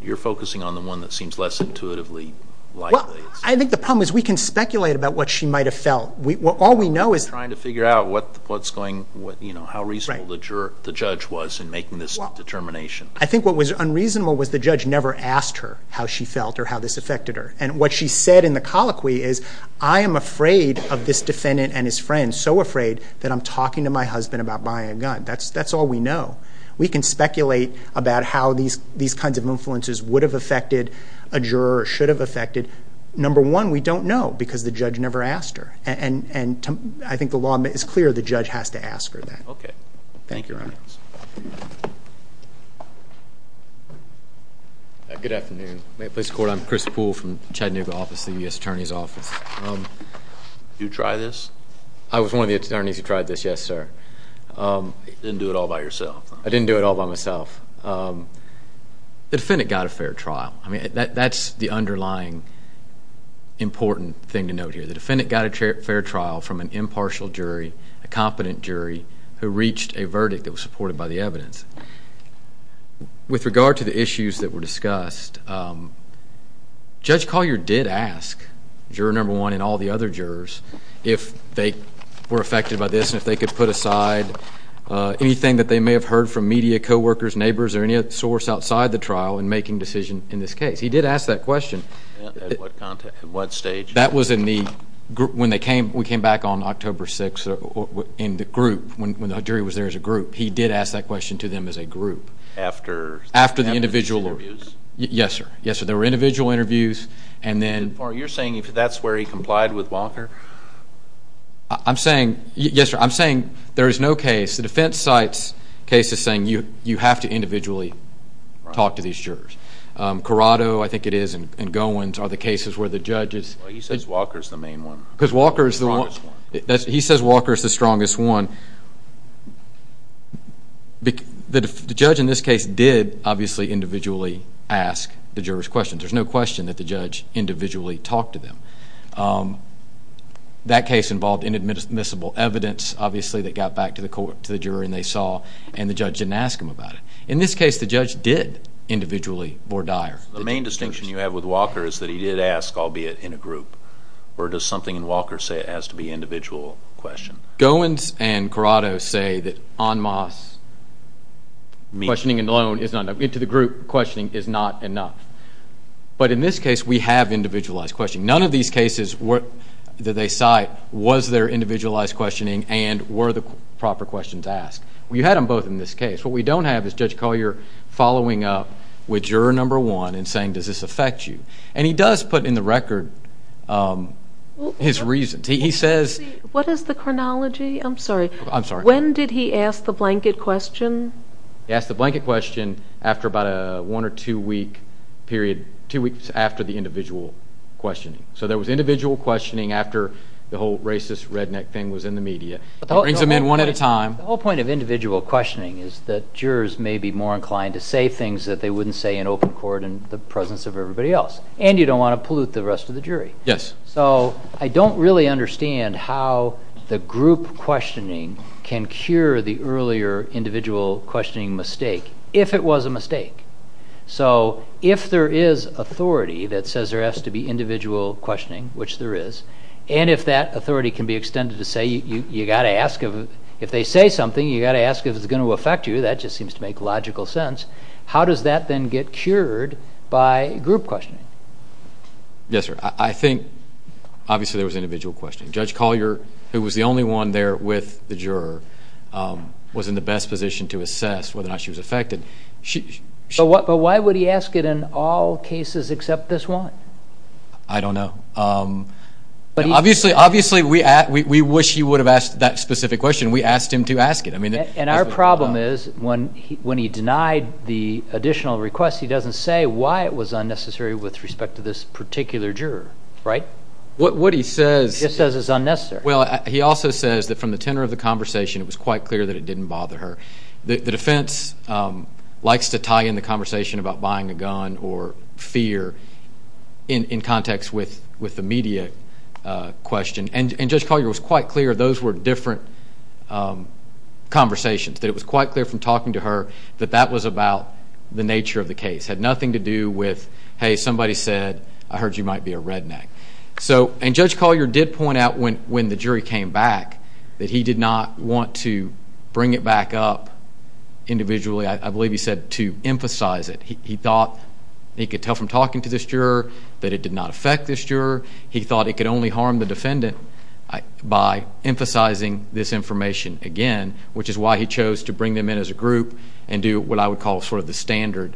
You're focusing on the one that seems less intuitively likely. I think the problem is we can speculate about what she might have felt. All we know is— You're trying to figure out how reasonable the judge was in making this determination. I think what was unreasonable was the judge never asked her how she felt or how this affected her. And what she said in the colloquy is, I am afraid of this defendant and his friend, so afraid that I'm talking to my husband about buying a gun. That's all we know. We can speculate about how these kinds of influences would have affected a juror or should have affected. Number one, we don't know because the judge never asked her. And I think the law is clear. The judge has to ask her that. Okay. Thank you, Your Honor. Good afternoon. May it please the Court? I'm Chris Poole from Chattanooga office, the U.S. Attorney's office. Did you try this? I was one of the attorneys who tried this, yes, sir. You didn't do it all by yourself, huh? I didn't do it all by myself. The defendant got a fair trial. I mean, that's the underlying important thing to note here. The defendant got a fair trial from an impartial jury, a competent jury, who reached a verdict that was supported by the evidence. With regard to the issues that were discussed, Judge Collier did ask, juror number one and all the other jurors, if they were affected by this and if they could put aside anything that they may have heard from media, coworkers, neighbors, or any source outside the trial in making a decision in this case. He did ask that question. At what stage? That was when we came back on October 6th in the group, when the jury was there as a group. He did ask that question to them as a group. After the individual interviews? Yes, sir. Yes, sir. There were individual interviews. Are you saying that's where he complied with Walker? Yes, sir. I'm saying there is no case. The defense cites cases saying you have to individually talk to these jurors. Corrado, I think it is, and Goins are the cases where the judge is. He says Walker is the main one. Because Walker is the strongest one. He says Walker is the strongest one. The judge in this case did, obviously, individually ask the jurors questions. There's no question that the judge individually talked to them. That case involved inadmissible evidence. Obviously, they got back to the jury, and they saw, and the judge didn't ask them about it. In this case, the judge did individually vore dire. The main distinction you have with Walker is that he did ask, albeit in a group. Or does something in Walker say it has to be an individual question? Goins and Corrado say that en masse questioning alone is not enough. Into the group questioning is not enough. But in this case, we have individualized questioning. None of these cases that they cite was their individualized questioning, and were the proper questions asked. You had them both in this case. What we don't have is Judge Collier following up with juror number one and saying, does this affect you? And he does put in the record his reasons. He says. What is the chronology? I'm sorry. I'm sorry. When did he ask the blanket question? He asked the blanket question after about a one or two week period, two weeks after the individual questioning. So there was individual questioning after the whole racist redneck thing was in the media. He brings them in one at a time. The whole point of individual questioning is that jurors may be more inclined to say things that they wouldn't say in open court in the presence of everybody else. And you don't want to pollute the rest of the jury. Yes. So I don't really understand how the group questioning can cure the earlier individual questioning mistake, if it was a mistake. So if there is authority that says there has to be individual questioning, which there is, and if that authority can be extended to say you've got to ask if they say something, you've got to ask if it's going to affect you, that just seems to make logical sense. How does that then get cured by group questioning? Yes, sir. I think obviously there was individual questioning. Judge Collier, who was the only one there with the juror, was in the best position to assess whether or not she was affected. But why would he ask it in all cases except this one? I don't know. Obviously we wish he would have asked that specific question. We asked him to ask it. And our problem is when he denied the additional request, he doesn't say why it was unnecessary with respect to this particular juror, right? What he says is unnecessary. Well, he also says that from the tenor of the conversation it was quite clear that it didn't bother her. The defense likes to tie in the conversation about buying a gun or fear in context with the media question. And Judge Collier was quite clear those were different conversations, that it was quite clear from talking to her that that was about the nature of the case. It had nothing to do with, hey, somebody said, I heard you might be a redneck. And Judge Collier did point out when the jury came back that he did not want to bring it back up individually. I believe he said to emphasize it. He thought he could tell from talking to this juror that it did not affect this juror. He thought it could only harm the defendant by emphasizing this information again, which is why he chose to bring them in as a group and do what I would call sort of the standard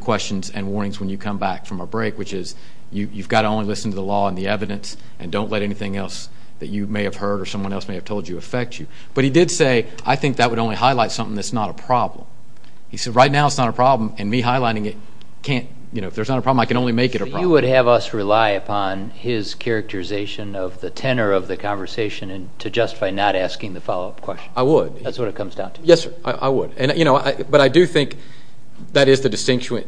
questions and warnings when you come back from a break, which is you've got to only listen to the law and the evidence and don't let anything else that you may have heard or someone else may have told you affect you. But he did say, I think that would only highlight something that's not a problem. He said, right now it's not a problem, and me highlighting it can't, you know, if there's not a problem, I can only make it a problem. You would have us rely upon his characterization of the tenor of the conversation to justify not asking the follow-up question. I would. That's what it comes down to. Yes, sir, I would. But I do think that is the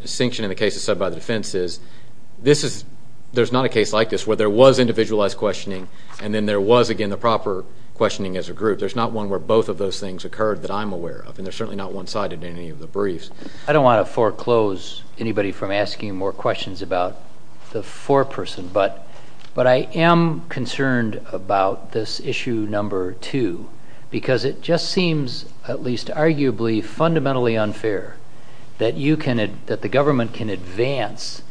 distinction in the cases set by the defense, is there's not a case like this where there was individualized questioning and then there was, again, the proper questioning as a group. There's not one where both of those things occurred that I'm aware of, and there's certainly not one sided in any of the briefs. I don't want to foreclose anybody from asking more questions about the foreperson, but I am concerned about this issue number two because it just seems, at least arguably, fundamentally unfair that the government can advance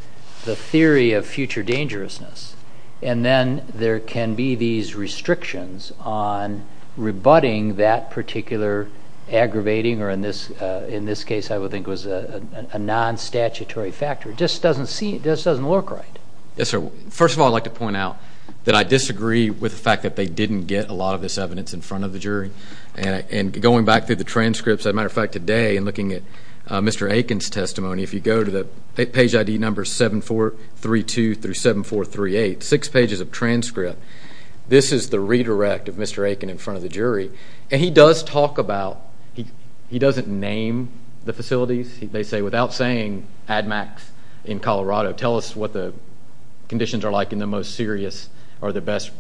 the theory of future dangerousness and then there can be these restrictions on rebutting that particular aggravating or in this case I would think was a non-statutory factor. It just doesn't work right. Yes, sir. First of all, I'd like to point out that I disagree with the fact that they didn't get a lot of this evidence in front of the jury. And going back through the transcripts, as a matter of fact, today and looking at Mr. Aiken's testimony, if you go to page ID number 7432 through 7438, six pages of transcript, this is the redirect of Mr. Aiken in front of the jury. And he does talk about, he doesn't name the facilities. They say, without saying Ad Max in Colorado, tell us what the conditions are like in the most serious or the best,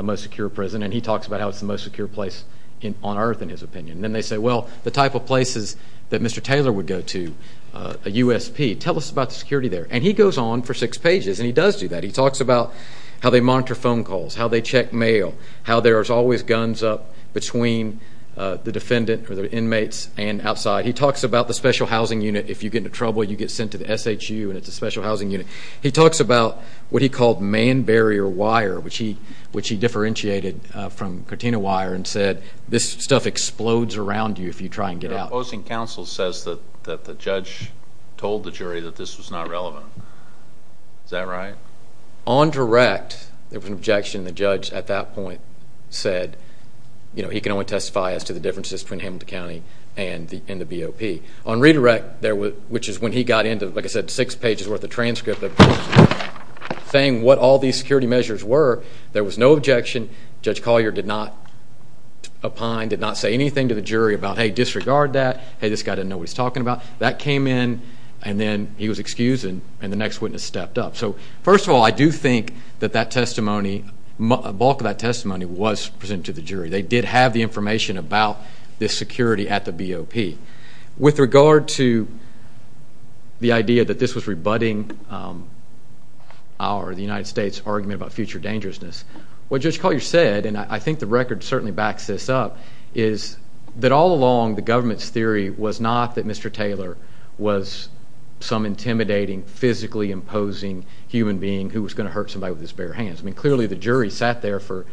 most secure prison. And he talks about how it's the most secure place on earth, in his opinion. And then they say, well, the type of places that Mr. Taylor would go to, a USP, tell us about the security there. And he goes on for six pages and he does do that. He talks about how they monitor phone calls, how they check mail, how there is always guns up between the defendant or the inmates and outside. He talks about the special housing unit. If you get into trouble, you get sent to the SHU and it's a special housing unit. He talks about what he called man barrier wire, which he differentiated from Cortina wire and said, this stuff explodes around you if you try and get out. The opposing counsel says that the judge told the jury that this was not relevant. Is that right? On direct, there was an objection. The judge at that point said, you know, he can only testify as to the differences between Hamilton County and the BOP. On redirect, which is when he got into, like I said, six pages worth of transcript of saying what all these security measures were, there was no objection. Judge Collier did not opine, did not say anything to the jury about, hey, disregard that. Hey, this guy didn't know what he was talking about. That came in and then he was excused and the next witness stepped up. So first of all, I do think that that testimony, a bulk of that testimony was presented to the jury. They did have the information about the security at the BOP. With regard to the idea that this was rebutting our, the United States' argument about future dangerousness, what Judge Collier said, and I think the record certainly backs this up, is that all along the government's theory was not that Mr. Taylor was some intimidating, physically imposing human being who was going to hurt somebody with his bare hands. I mean, clearly the jury sat there for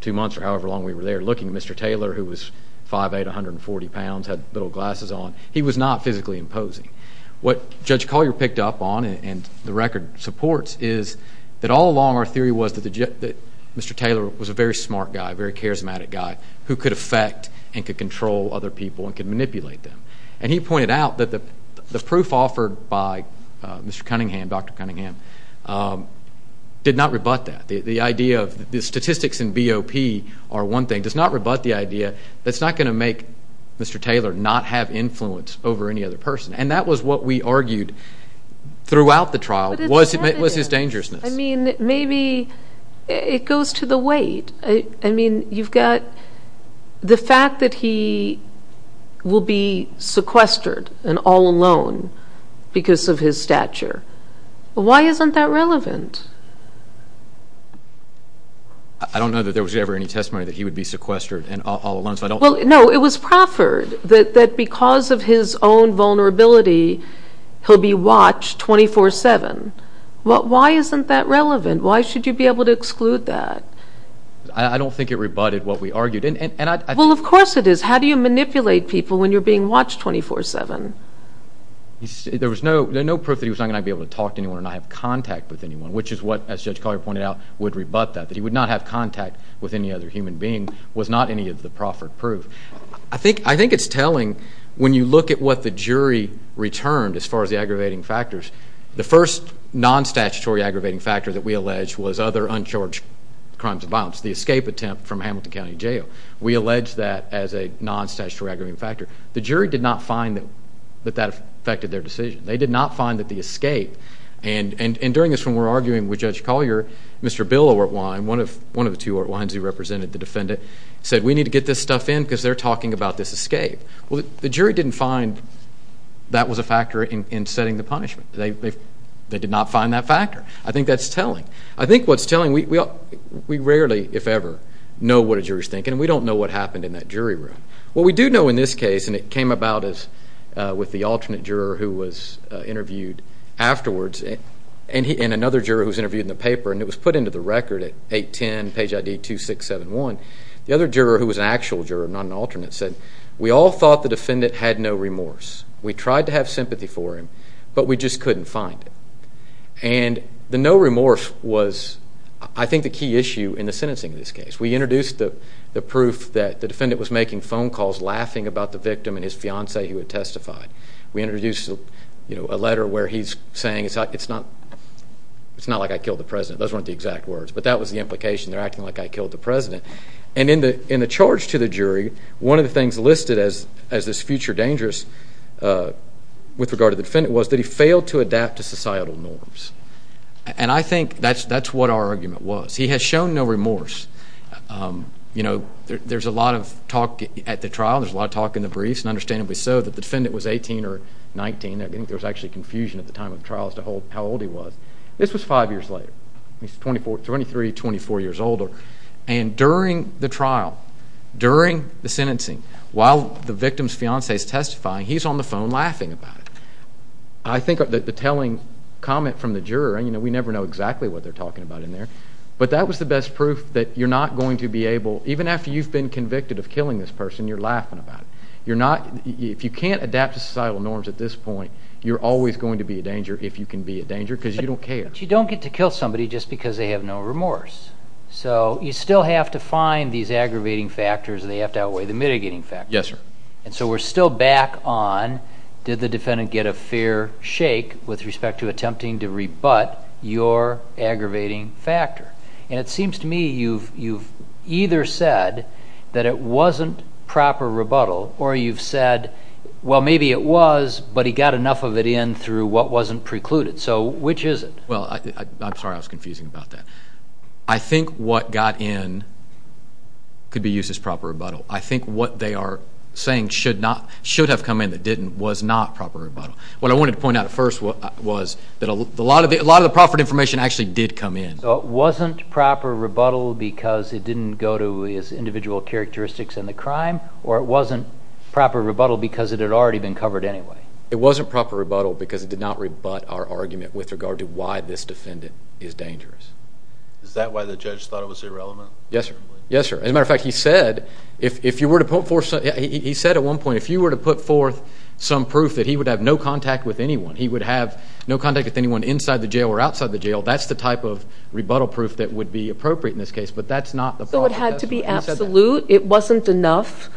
two months or however long we were there looking at Mr. Taylor, who was 5'8", 140 pounds, had little glasses on. He was not physically imposing. What Judge Collier picked up on, and the record supports, is that all along our theory was that Mr. Taylor was a very smart guy, a very charismatic guy who could affect and could control other people and could manipulate them. And he pointed out that the proof offered by Mr. Cunningham, Dr. Cunningham, did not rebut that. The idea of the statistics in BOP are one thing, does not rebut the idea that's not going to make Mr. Taylor not have influence over any other person. And that was what we argued throughout the trial was his dangerousness. I mean, maybe it goes to the weight. I mean, you've got the fact that he will be sequestered and all alone because of his stature. Why isn't that relevant? I don't know that there was ever any testimony that he would be sequestered and all alone. No, it was proffered that because of his own vulnerability, he'll be watched 24-7. Why isn't that relevant? Why should you be able to exclude that? I don't think it rebutted what we argued. Well, of course it is. How do you manipulate people when you're being watched 24-7? There was no proof that he was not going to be able to talk to anyone or not have contact with anyone, which is what, as Judge Collier pointed out, would rebut that, that he would not have contact with any other human being was not any of the proffered proof. I think it's telling when you look at what the jury returned as far as the aggravating factors. The first non-statutory aggravating factor that we alleged was other uncharged crimes of violence, the escape attempt from Hamilton County Jail. We alleged that as a non-statutory aggravating factor. The jury did not find that that affected their decision. They did not find that the escape, and during this when we were arguing with Judge Collier, Mr. Bill Oertwein, one of the two Oertweins who represented the defendant, said we need to get this stuff in because they're talking about this escape. Well, the jury didn't find that was a factor in setting the punishment. They did not find that factor. I think that's telling. I think what's telling, we rarely, if ever, know what a juror's thinking, and we don't know what happened in that jury room. What we do know in this case, and it came about with the alternate juror who was interviewed afterwards and another juror who was interviewed in the paper, and it was put into the record at 810 page ID 2671, the other juror who was an actual juror, not an alternate, said we all thought the defendant had no remorse. We tried to have sympathy for him, but we just couldn't find it. And the no remorse was, I think, the key issue in the sentencing of this case. We introduced the proof that the defendant was making phone calls laughing about the victim and his fiancee who had testified. We introduced a letter where he's saying it's not like I killed the president. Those weren't the exact words, but that was the implication. They're acting like I killed the president. And in the charge to the jury, one of the things listed as this future dangerous with regard to the defendant was that he failed to adapt to societal norms. And I think that's what our argument was. He has shown no remorse. There's a lot of talk at the trial. There's a lot of talk in the briefs, and understandably so, that the defendant was 18 or 19. I think there was actually confusion at the time of the trial as to how old he was. This was five years later. He's 23, 24 years older. And during the trial, during the sentencing, while the victim's fiancee is testifying, he's on the phone laughing about it. I think the telling comment from the juror, and we never know exactly what they're talking about in there, but that was the best proof that you're not going to be able, even after you've been convicted of killing this person, you're laughing about it. If you can't adapt to societal norms at this point, you're always going to be a danger if you can be a danger because you don't care. But you don't get to kill somebody just because they have no remorse. So you still have to find these aggravating factors, and they have to outweigh the mitigating factors. Yes, sir. And so we're still back on did the defendant get a fair shake with respect to attempting to rebut your aggravating factor. And it seems to me you've either said that it wasn't proper rebuttal, or you've said, well, maybe it was, but he got enough of it in through what wasn't precluded. So which is it? Well, I'm sorry I was confusing about that. I think what got in could be used as proper rebuttal. I think what they are saying should have come in that didn't was not proper rebuttal. What I wanted to point out at first was that a lot of the proffered information actually did come in. So it wasn't proper rebuttal because it didn't go to his individual characteristics in the crime, or it wasn't proper rebuttal because it had already been covered anyway? It wasn't proper rebuttal because it did not rebut our argument with regard to why this defendant is dangerous. Is that why the judge thought it was irrelevant? Yes, sir. Yes, sir. As a matter of fact, he said if you were to put forth some proof that he would have no contact with anyone, he would have no contact with anyone inside the jail or outside the jail, that's the type of rebuttal proof that would be appropriate in this case, but that's not the problem. So it had to be absolute? It wasn't enough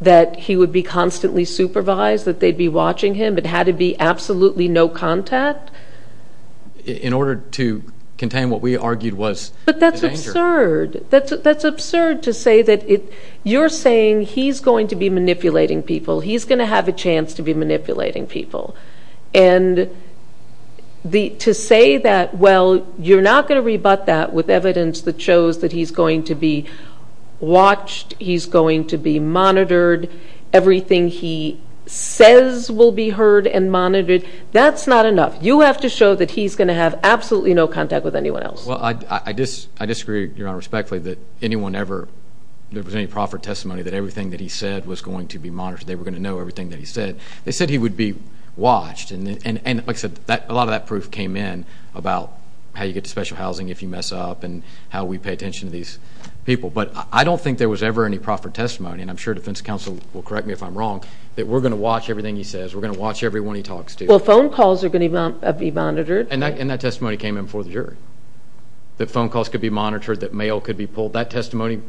that he would be constantly supervised, that they'd be watching him? It had to be absolutely no contact? In order to contain what we argued was the danger. But that's absurd. That's absurd to say that you're saying he's going to be manipulating people. He's going to have a chance to be manipulating people. And to say that, well, you're not going to rebut that with evidence that shows that he's going to be watched, he's going to be monitored, everything he says will be heard and monitored, that's not enough. You have to show that he's going to have absolutely no contact with anyone else. Well, I disagree, Your Honor, respectfully, that anyone ever, there was any proffered testimony that everything that he said was going to be monitored, they were going to know everything that he said. They said he would be watched, and like I said, a lot of that proof came in about how you get to special housing if you mess up and how we pay attention to these people. But I don't think there was ever any proffered testimony, and I'm sure defense counsel will correct me if I'm wrong, that we're going to watch everything he says, we're going to watch everyone he talks to. Well, phone calls are going to be monitored. And that testimony came in before the jury, that phone calls could be monitored, that mail could be pulled. That testimony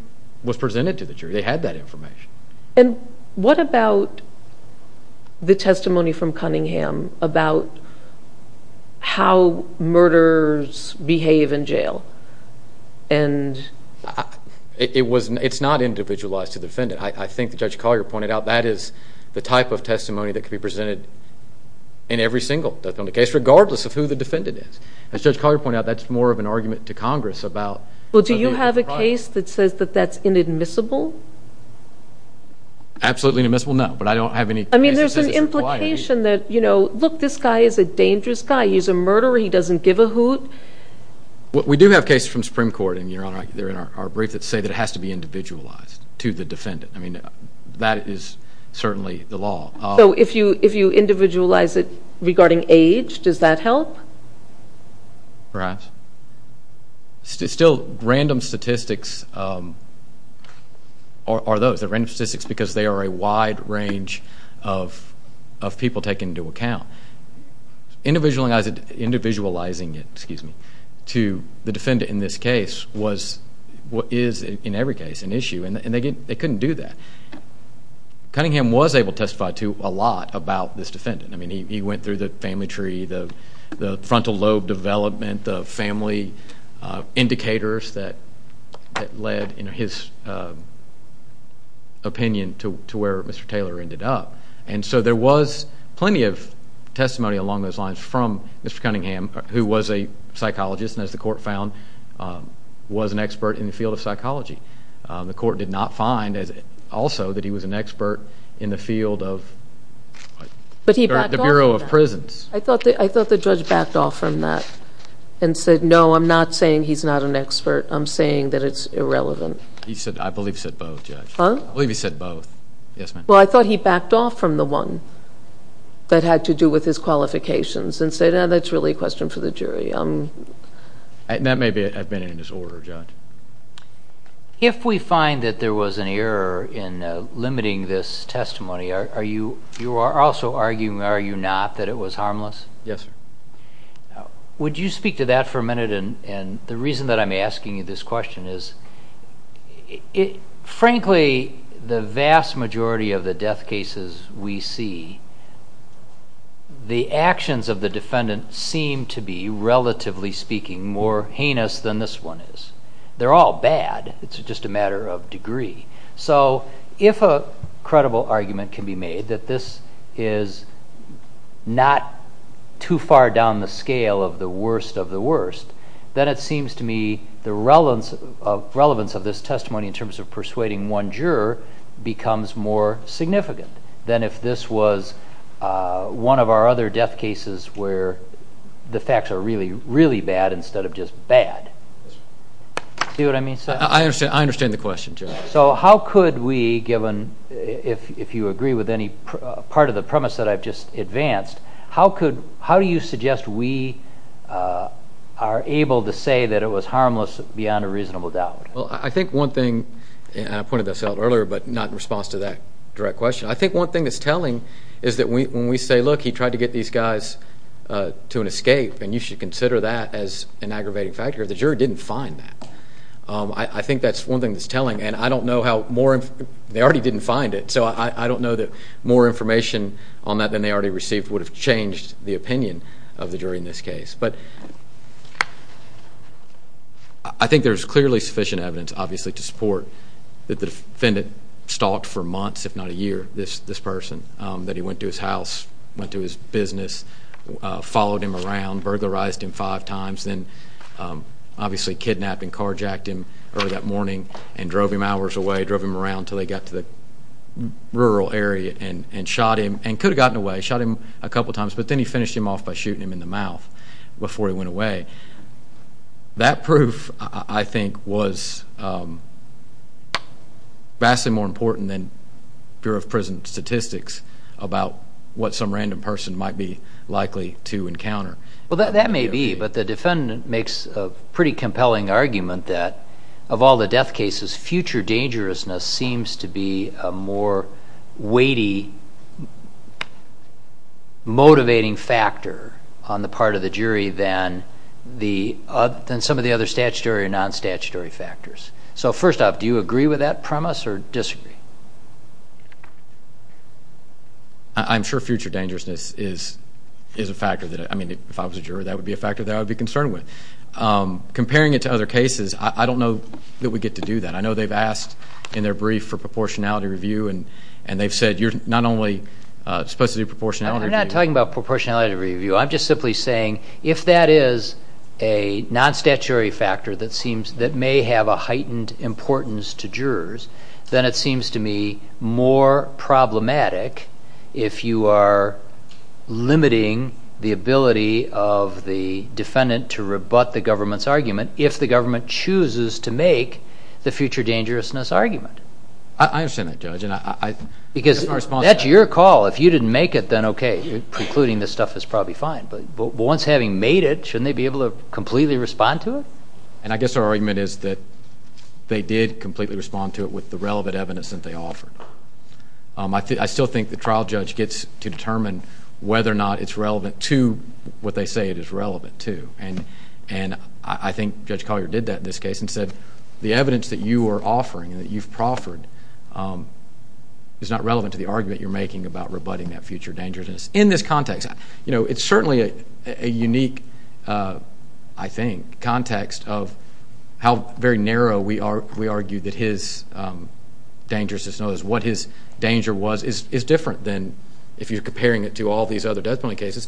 was presented to the jury. They had that information. And what about the testimony from Cunningham about how murderers behave in jail? It's not individualized to the defendant. I think Judge Collier pointed out that is the type of testimony that could be presented in every single defendant case, regardless of who the defendant is. As Judge Collier pointed out, that's more of an argument to Congress about Cunningham being a crime. Well, do you have a case that says that that's inadmissible? Absolutely inadmissible, no, but I don't have any case that says it's a crime. I mean, there's an implication that, you know, look, this guy is a dangerous guy. He's a murderer. He doesn't give a hoot. We do have cases from the Supreme Court, and, Your Honor, they're in our brief, that say that it has to be individualized to the defendant. I mean, that is certainly the law. So if you individualize it regarding age, does that help? Perhaps. Still, random statistics are those. They're random statistics because they are a wide range of people taken into account. Individualizing it to the defendant in this case is, in every case, an issue, and they couldn't do that. Cunningham was able to testify to a lot about this defendant. I mean, he went through the family tree, the frontal lobe development, the family indicators that led, in his opinion, to where Mr. Taylor ended up. And so there was plenty of testimony along those lines from Mr. Cunningham, who was a psychologist and, as the Court found, was an expert in the field of psychology. The Court did not find, also, that he was an expert in the field of the Bureau of Prisons. I thought the judge backed off from that and said, no, I'm not saying he's not an expert. I'm saying that it's irrelevant. I believe he said both, Judge. I believe he said both. Yes, ma'am. Well, I thought he backed off from the one that had to do with his qualifications and said, no, that's really a question for the jury. That may have been in his order, Judge. If we find that there was an error in limiting this testimony, you are also arguing, are you not, that it was harmless? Yes, sir. Would you speak to that for a minute? The reason that I'm asking you this question is, frankly, the vast majority of the death cases we see, the actions of the defendant seem to be, relatively speaking, more heinous than this one is. They're all bad. It's just a matter of degree. So if a credible argument can be made that this is not too far down the scale of the worst of the worst, then it seems to me the relevance of this testimony in terms of persuading one juror becomes more significant than if this was one of our other death cases where the facts are really, really bad instead of just bad. Do you see what I mean, sir? I understand the question, Judge. So how could we, if you agree with any part of the premise that I've just advanced, how do you suggest we are able to say that it was harmless beyond a reasonable doubt? Well, I think one thing, and I pointed this out earlier but not in response to that direct question, I think one thing that's telling is that when we say, look, he tried to get these guys to an escape and you should consider that as an aggravating factor, the juror didn't find that. I think that's one thing that's telling, and I don't know how more, they already didn't find it, so I don't know that more information on that than they already received would have changed the opinion of the jury in this case. But I think there's clearly sufficient evidence, obviously, to support that the defendant stalked for months, if not a year, this person, that he went to his house, went to his business, followed him around, burglarized him five times, then obviously kidnapped and carjacked him early that morning and drove him hours away, drove him around until they got to the rural area and shot him and could have gotten away, shot him a couple times, but then he finished him off by shooting him in the mouth before he went away. That proof, I think, was vastly more important than Bureau of Prison Statistics about what some random person might be likely to encounter. Well, that may be, but the defendant makes a pretty compelling argument that of all the death cases, future dangerousness seems to be a more weighty, motivating factor on the part of the jury than some of the other statutory and non-statutory factors. So first off, do you agree with that premise or disagree? I'm sure future dangerousness is a factor that, I mean, if I was a juror, that would be a factor that I would be concerned with. Comparing it to other cases, I don't know that we get to do that. I know they've asked in their brief for proportionality review, and they've said you're not only supposed to do proportionality review. I'm not talking about proportionality review. I'm just simply saying if that is a non-statutory factor that may have a heightened importance to jurors, then it seems to me more problematic if you are limiting the ability of the defendant to rebut the government's argument if the government chooses to make the future dangerousness argument. I understand that, Judge. Because that's your call. If you didn't make it, then okay, precluding this stuff is probably fine. But once having made it, shouldn't they be able to completely respond to it? And I guess our argument is that they did completely respond to it with the relevant evidence that they offered. I still think the trial judge gets to determine whether or not it's relevant to what they say it is relevant to, and I think Judge Collier did that in this case and said the evidence that you are offering and that you've proffered is not relevant to the argument you're making about rebutting that future dangerousness. In this context, it's certainly a unique, I think, context of how very narrow we argue that his dangerousness was, what his danger was is different than if you're comparing it to all these other death penalty cases.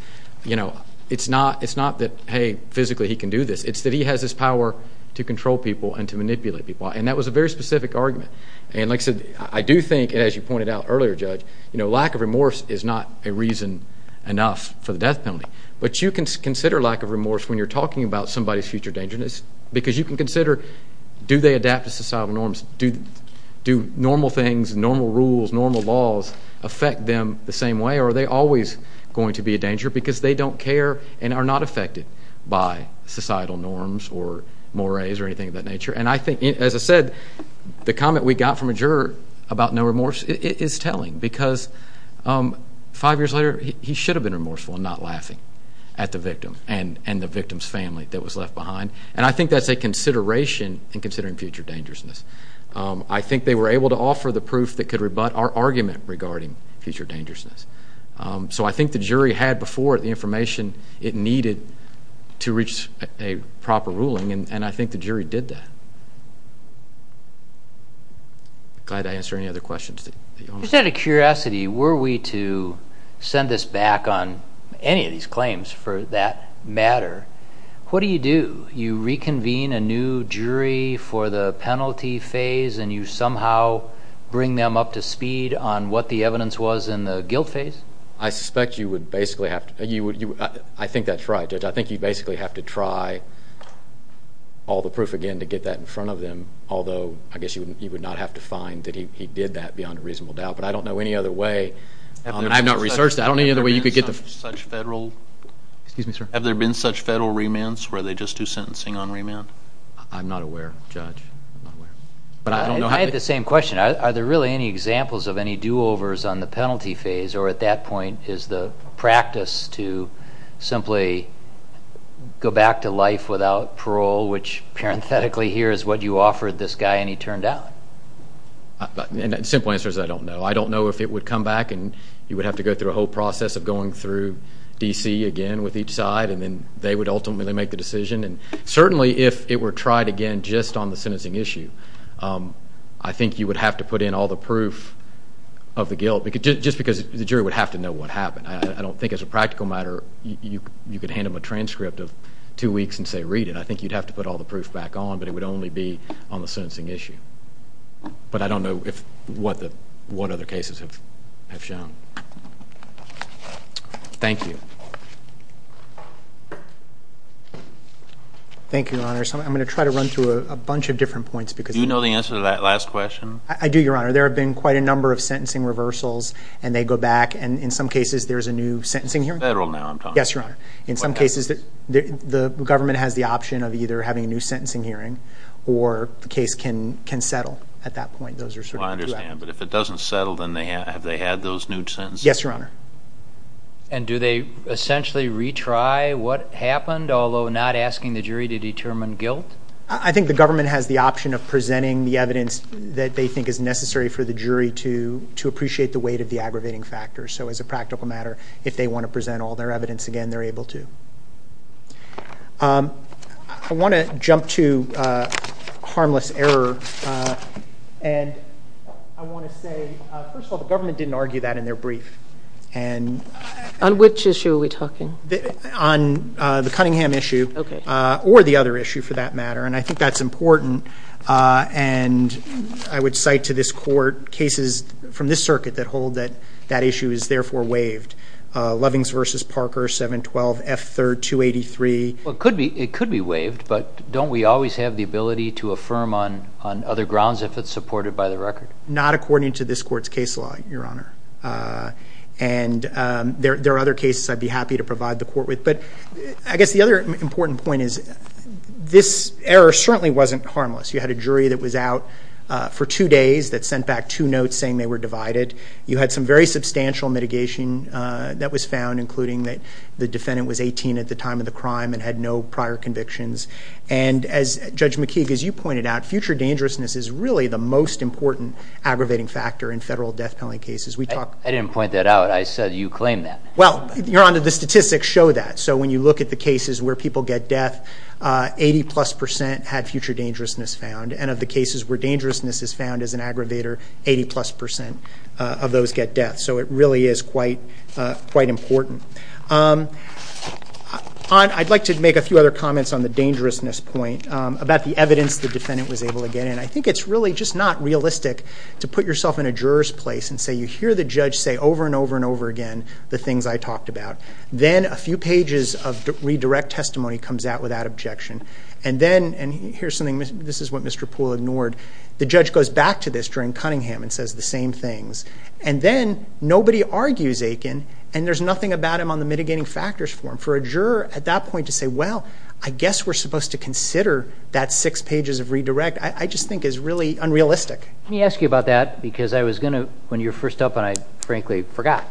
It's not that, hey, physically he can do this. It's that he has this power to control people and to manipulate people. And that was a very specific argument. And like I said, I do think, as you pointed out earlier, Judge, lack of remorse is not a reason enough for the death penalty. But you can consider lack of remorse when you're talking about somebody's future dangerousness because you can consider do they adapt to societal norms? Do normal things, normal rules, normal laws affect them the same way? Or are they always going to be a danger because they don't care and are not affected by societal norms or mores or anything of that nature? And I think, as I said, the comment we got from a juror about no remorse is telling because five years later he should have been remorseful and not laughing at the victim and the victim's family that was left behind. And I think that's a consideration in considering future dangerousness. I think they were able to offer the proof that could rebut our argument regarding future dangerousness. So I think the jury had before it the information it needed to reach a proper ruling, and I think the jury did that. Glad to answer any other questions. Just out of curiosity, were we to send this back on any of these claims for that matter, what do you do? You reconvene a new jury for the penalty phase and you somehow bring them up to speed on what the evidence was in the guilt phase? I suspect you would basically have to. I think that's right, Judge. I think you'd basically have to try all the proof again to get that in front of them, although I guess you would not have to find that he did that beyond a reasonable doubt. But I don't know any other way, and I have not researched that. Have there been such federal remands where they just do sentencing on remand? I'm not aware, Judge. I had the same question. Are there really any examples of any do-overs on the penalty phase, or at that point is the practice to simply go back to life without parole, which parenthetically here is what you offered this guy and he turned down? The simple answer is I don't know. I don't know if it would come back and you would have to go through a whole process of going through D.C. again with each side, and then they would ultimately make the decision. And certainly if it were tried again just on the sentencing issue, I think you would have to put in all the proof of the guilt, just because the jury would have to know what happened. I don't think as a practical matter you could hand them a transcript of two weeks and say read it. I think you'd have to put all the proof back on, but it would only be on the sentencing issue. But I don't know what other cases have shown. Thank you. Thank you, Your Honor. I'm going to try to run through a bunch of different points. Do you know the answer to that last question? I do, Your Honor. There have been quite a number of sentencing reversals, and they go back, and in some cases there's a new sentencing hearing. Federal now, I'm talking about. Yes, Your Honor. In some cases the government has the option of either having a new sentencing hearing, or the case can settle at that point. I understand, but if it doesn't settle, then have they had those new sentences? Yes, Your Honor. And do they essentially retry what happened, although not asking the jury to determine guilt? I think the government has the option of presenting the evidence that they think is necessary for the jury to appreciate the weight of the aggravating factors. So as a practical matter, if they want to present all their evidence again, they're able to. I want to jump to harmless error, and I want to say, first of all, the government didn't argue that in their brief. On which issue are we talking? On the Cunningham issue, or the other issue for that matter, and I think that's important. And I would cite to this court cases from this circuit that hold that that issue is therefore waived. Lovings v. Parker, 712F3283. It could be waived, but don't we always have the ability to affirm on other grounds if it's supported by the record? Not according to this court's case law, Your Honor. And there are other cases I'd be happy to provide the court with. But I guess the other important point is this error certainly wasn't harmless. You had a jury that was out for two days that sent back two notes saying they were divided. You had some very substantial mitigation that was found, including that the defendant was 18 at the time of the crime and had no prior convictions. And as Judge McKee, as you pointed out, future dangerousness is really the most important aggravating factor in federal death penalty cases. I didn't point that out. I said you claimed that. Well, Your Honor, the statistics show that. So when you look at the cases where people get death, 80-plus percent had future dangerousness found. And of the cases where dangerousness is found as an aggravator, 80-plus percent of those get death. So it really is quite important. I'd like to make a few other comments on the dangerousness point, about the evidence the defendant was able to get. And I think it's really just not realistic to put yourself in a juror's place and say you hear the judge say over and over and over again the things I talked about. Then a few pages of redirect testimony comes out without objection. And then, and here's something, this is what Mr. Poole ignored, the judge goes back to this during Cunningham and says the same things. And then nobody argues Aiken, and there's nothing about him on the mitigating factors form. For a juror at that point to say, well, I guess we're supposed to consider that six pages of redirect, I just think is really unrealistic. Let me ask you about that because I was going to, when you were first up, and I frankly forgot,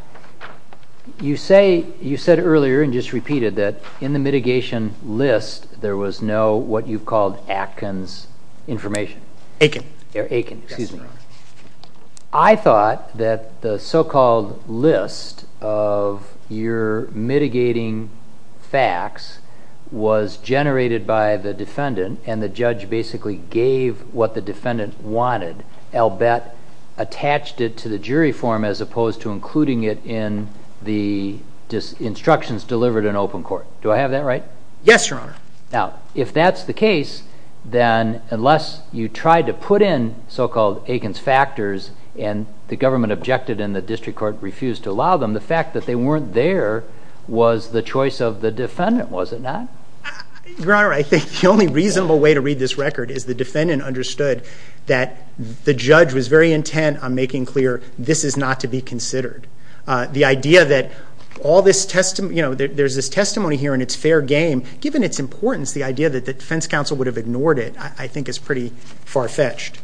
you said earlier and just repeated that in the mitigation list there was no what you called Atkins information. Aiken. Aiken, excuse me. Yes, Your Honor. I thought that the so-called list of your mitigating facts was generated by the defendant and the judge basically gave what the defendant wanted, albeit attached it to the jury form as opposed to including it in the instructions delivered in open court. Do I have that right? Yes, Your Honor. Now, if that's the case, then unless you tried to put in so-called Aiken's factors and the government objected and the district court refused to allow them, the fact that they weren't there was the choice of the defendant, was it not? Your Honor, I think the only reasonable way to read this record is the defendant understood that the judge was very intent on making clear this is not to be considered. The idea that there's this testimony here and it's fair game, given its importance the idea that the defense counsel would have ignored it I think is pretty far-fetched.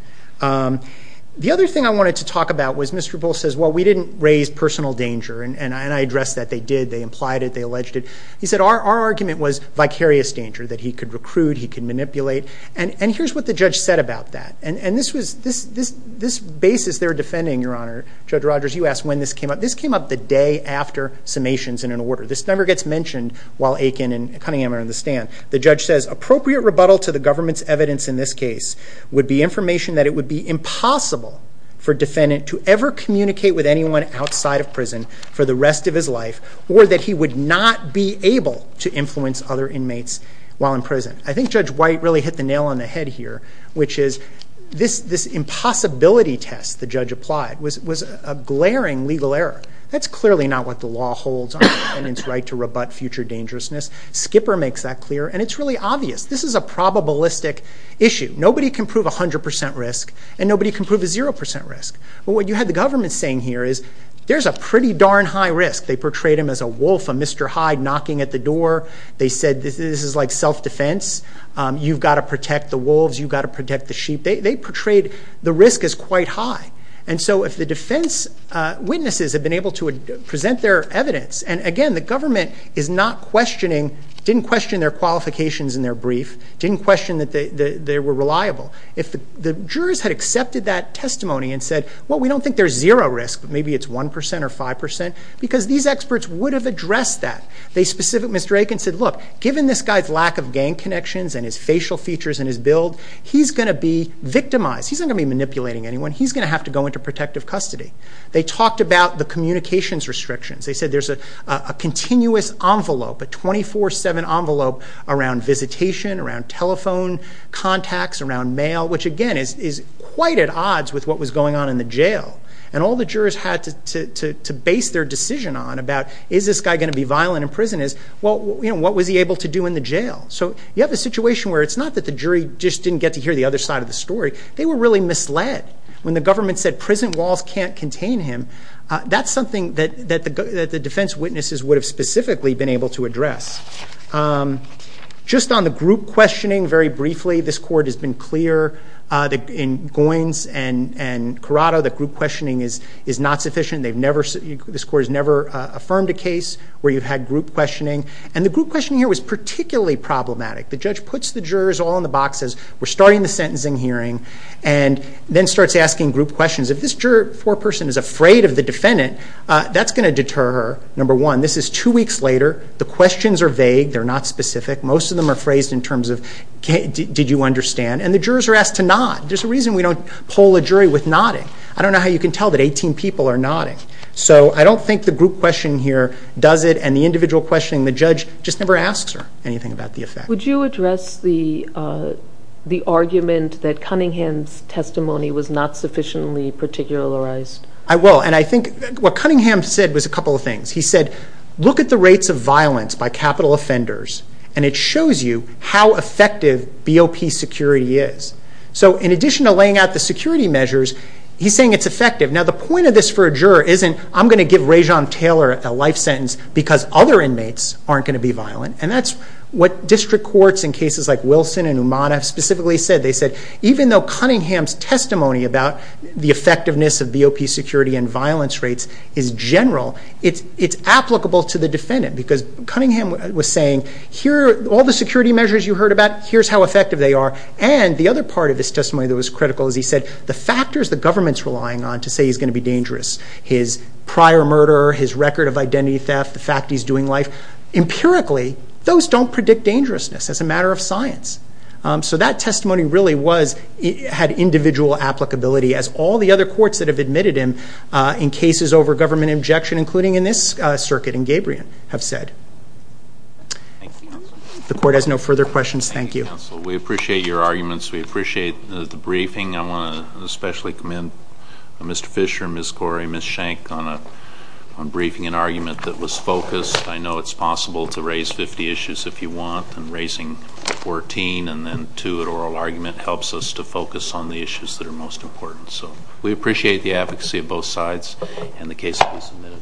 The other thing I wanted to talk about was Mr. Bull says, well, we didn't raise personal danger, and I addressed that. They did. They implied it. They alleged it. He said our argument was vicarious danger, that he could recruit, he could manipulate, and here's what the judge said about that. And this basis they're defending, Your Honor, Judge Rogers, you asked when this came up. This came up the day after summations in an order. This never gets mentioned while Aiken and Cunningham are in the stand. The judge says appropriate rebuttal to the government's evidence in this case would be information that it would be impossible for a defendant to ever communicate with anyone outside of prison for the rest of his life or that he would not be able to influence other inmates while in prison. I think Judge White really hit the nail on the head here, which is this impossibility test the judge applied was a glaring legal error. That's clearly not what the law holds on the defendant's right to rebut future dangerousness. Skipper makes that clear, and it's really obvious. This is a probabilistic issue. Nobody can prove 100% risk, and nobody can prove a 0% risk. But what you had the government saying here is there's a pretty darn high risk. They portrayed him as a wolf, a Mr. Hyde knocking at the door. They said this is like self-defense. You've got to protect the wolves. You've got to protect the sheep. They portrayed the risk as quite high. And so if the defense witnesses had been able to present their evidence, and again the government is not questioning, didn't question their qualifications in their brief, didn't question that they were reliable. If the jurors had accepted that testimony and said, well, we don't think there's 0 risk, but maybe it's 1% or 5% because these experts would have addressed that. They specifically said, look, given this guy's lack of gang connections and his facial features and his build, he's going to be victimized. He's not going to be manipulating anyone. He's going to have to go into protective custody. They talked about the communications restrictions. They said there's a continuous envelope, a 24-7 envelope around visitation, around telephone contacts, around mail, which, again, is quite at odds with what was going on in the jail. And all the jurors had to base their decision on about is this guy going to be violent in prison is, well, what was he able to do in the jail? So you have a situation where it's not that the jury just didn't get to hear the other side of the story. They were really misled. When the government said prison walls can't contain him, that's something that the defense witnesses would have specifically been able to address. Just on the group questioning, very briefly, this court has been clear in Goins and Corrado, that group questioning is not sufficient. This court has never affirmed a case where you've had group questioning. And the group questioning here was particularly problematic. The judge puts the jurors all in the boxes. We're starting the sentencing hearing, and then starts asking group questions. If this four-person is afraid of the defendant, that's going to deter her. Number one, this is two weeks later. The questions are vague. They're not specific. Most of them are phrased in terms of, did you understand? And the jurors are asked to nod. There's a reason we don't poll a jury with nodding. I don't know how you can tell that 18 people are nodding. So I don't think the group question here does it, and the individual questioning, the judge just never asks her anything about the effect. Would you address the argument that Cunningham's testimony was not sufficiently particularized? I will, and I think what Cunningham said was a couple of things. He said, look at the rates of violence by capital offenders, and it shows you how effective BOP security is. So in addition to laying out the security measures, he's saying it's effective. Now, the point of this for a juror isn't, I'm going to give Rajon Taylor a life sentence because other inmates aren't going to be violent. And that's what district courts in cases like Wilson and Uman have specifically said. They said, even though Cunningham's testimony about the effectiveness of BOP security and violence rates is general, it's applicable to the defendant. Because Cunningham was saying, here are all the security measures you heard about. Here's how effective they are. And the other part of his testimony that was critical is he said, the factors the government's relying on to say he's going to be dangerous, his prior murder, his record of identity theft, the fact he's doing life, empirically those don't predict dangerousness. That's a matter of science. So that testimony really had individual applicability, as all the other courts that have admitted him in cases over government injection, including in this circuit in Gabrion, have said. The court has no further questions. Thank you. Thank you, counsel. We appreciate your arguments. We appreciate the briefing. I want to especially commend Mr. Fisher, Ms. Gorey, Ms. Schenck on briefing an argument that was focused. I know it's possible to raise 50 issues if you want, and raising 14 and then two at oral argument helps us to focus on the issues that are most important. So we appreciate the advocacy of both sides and the case that was submitted.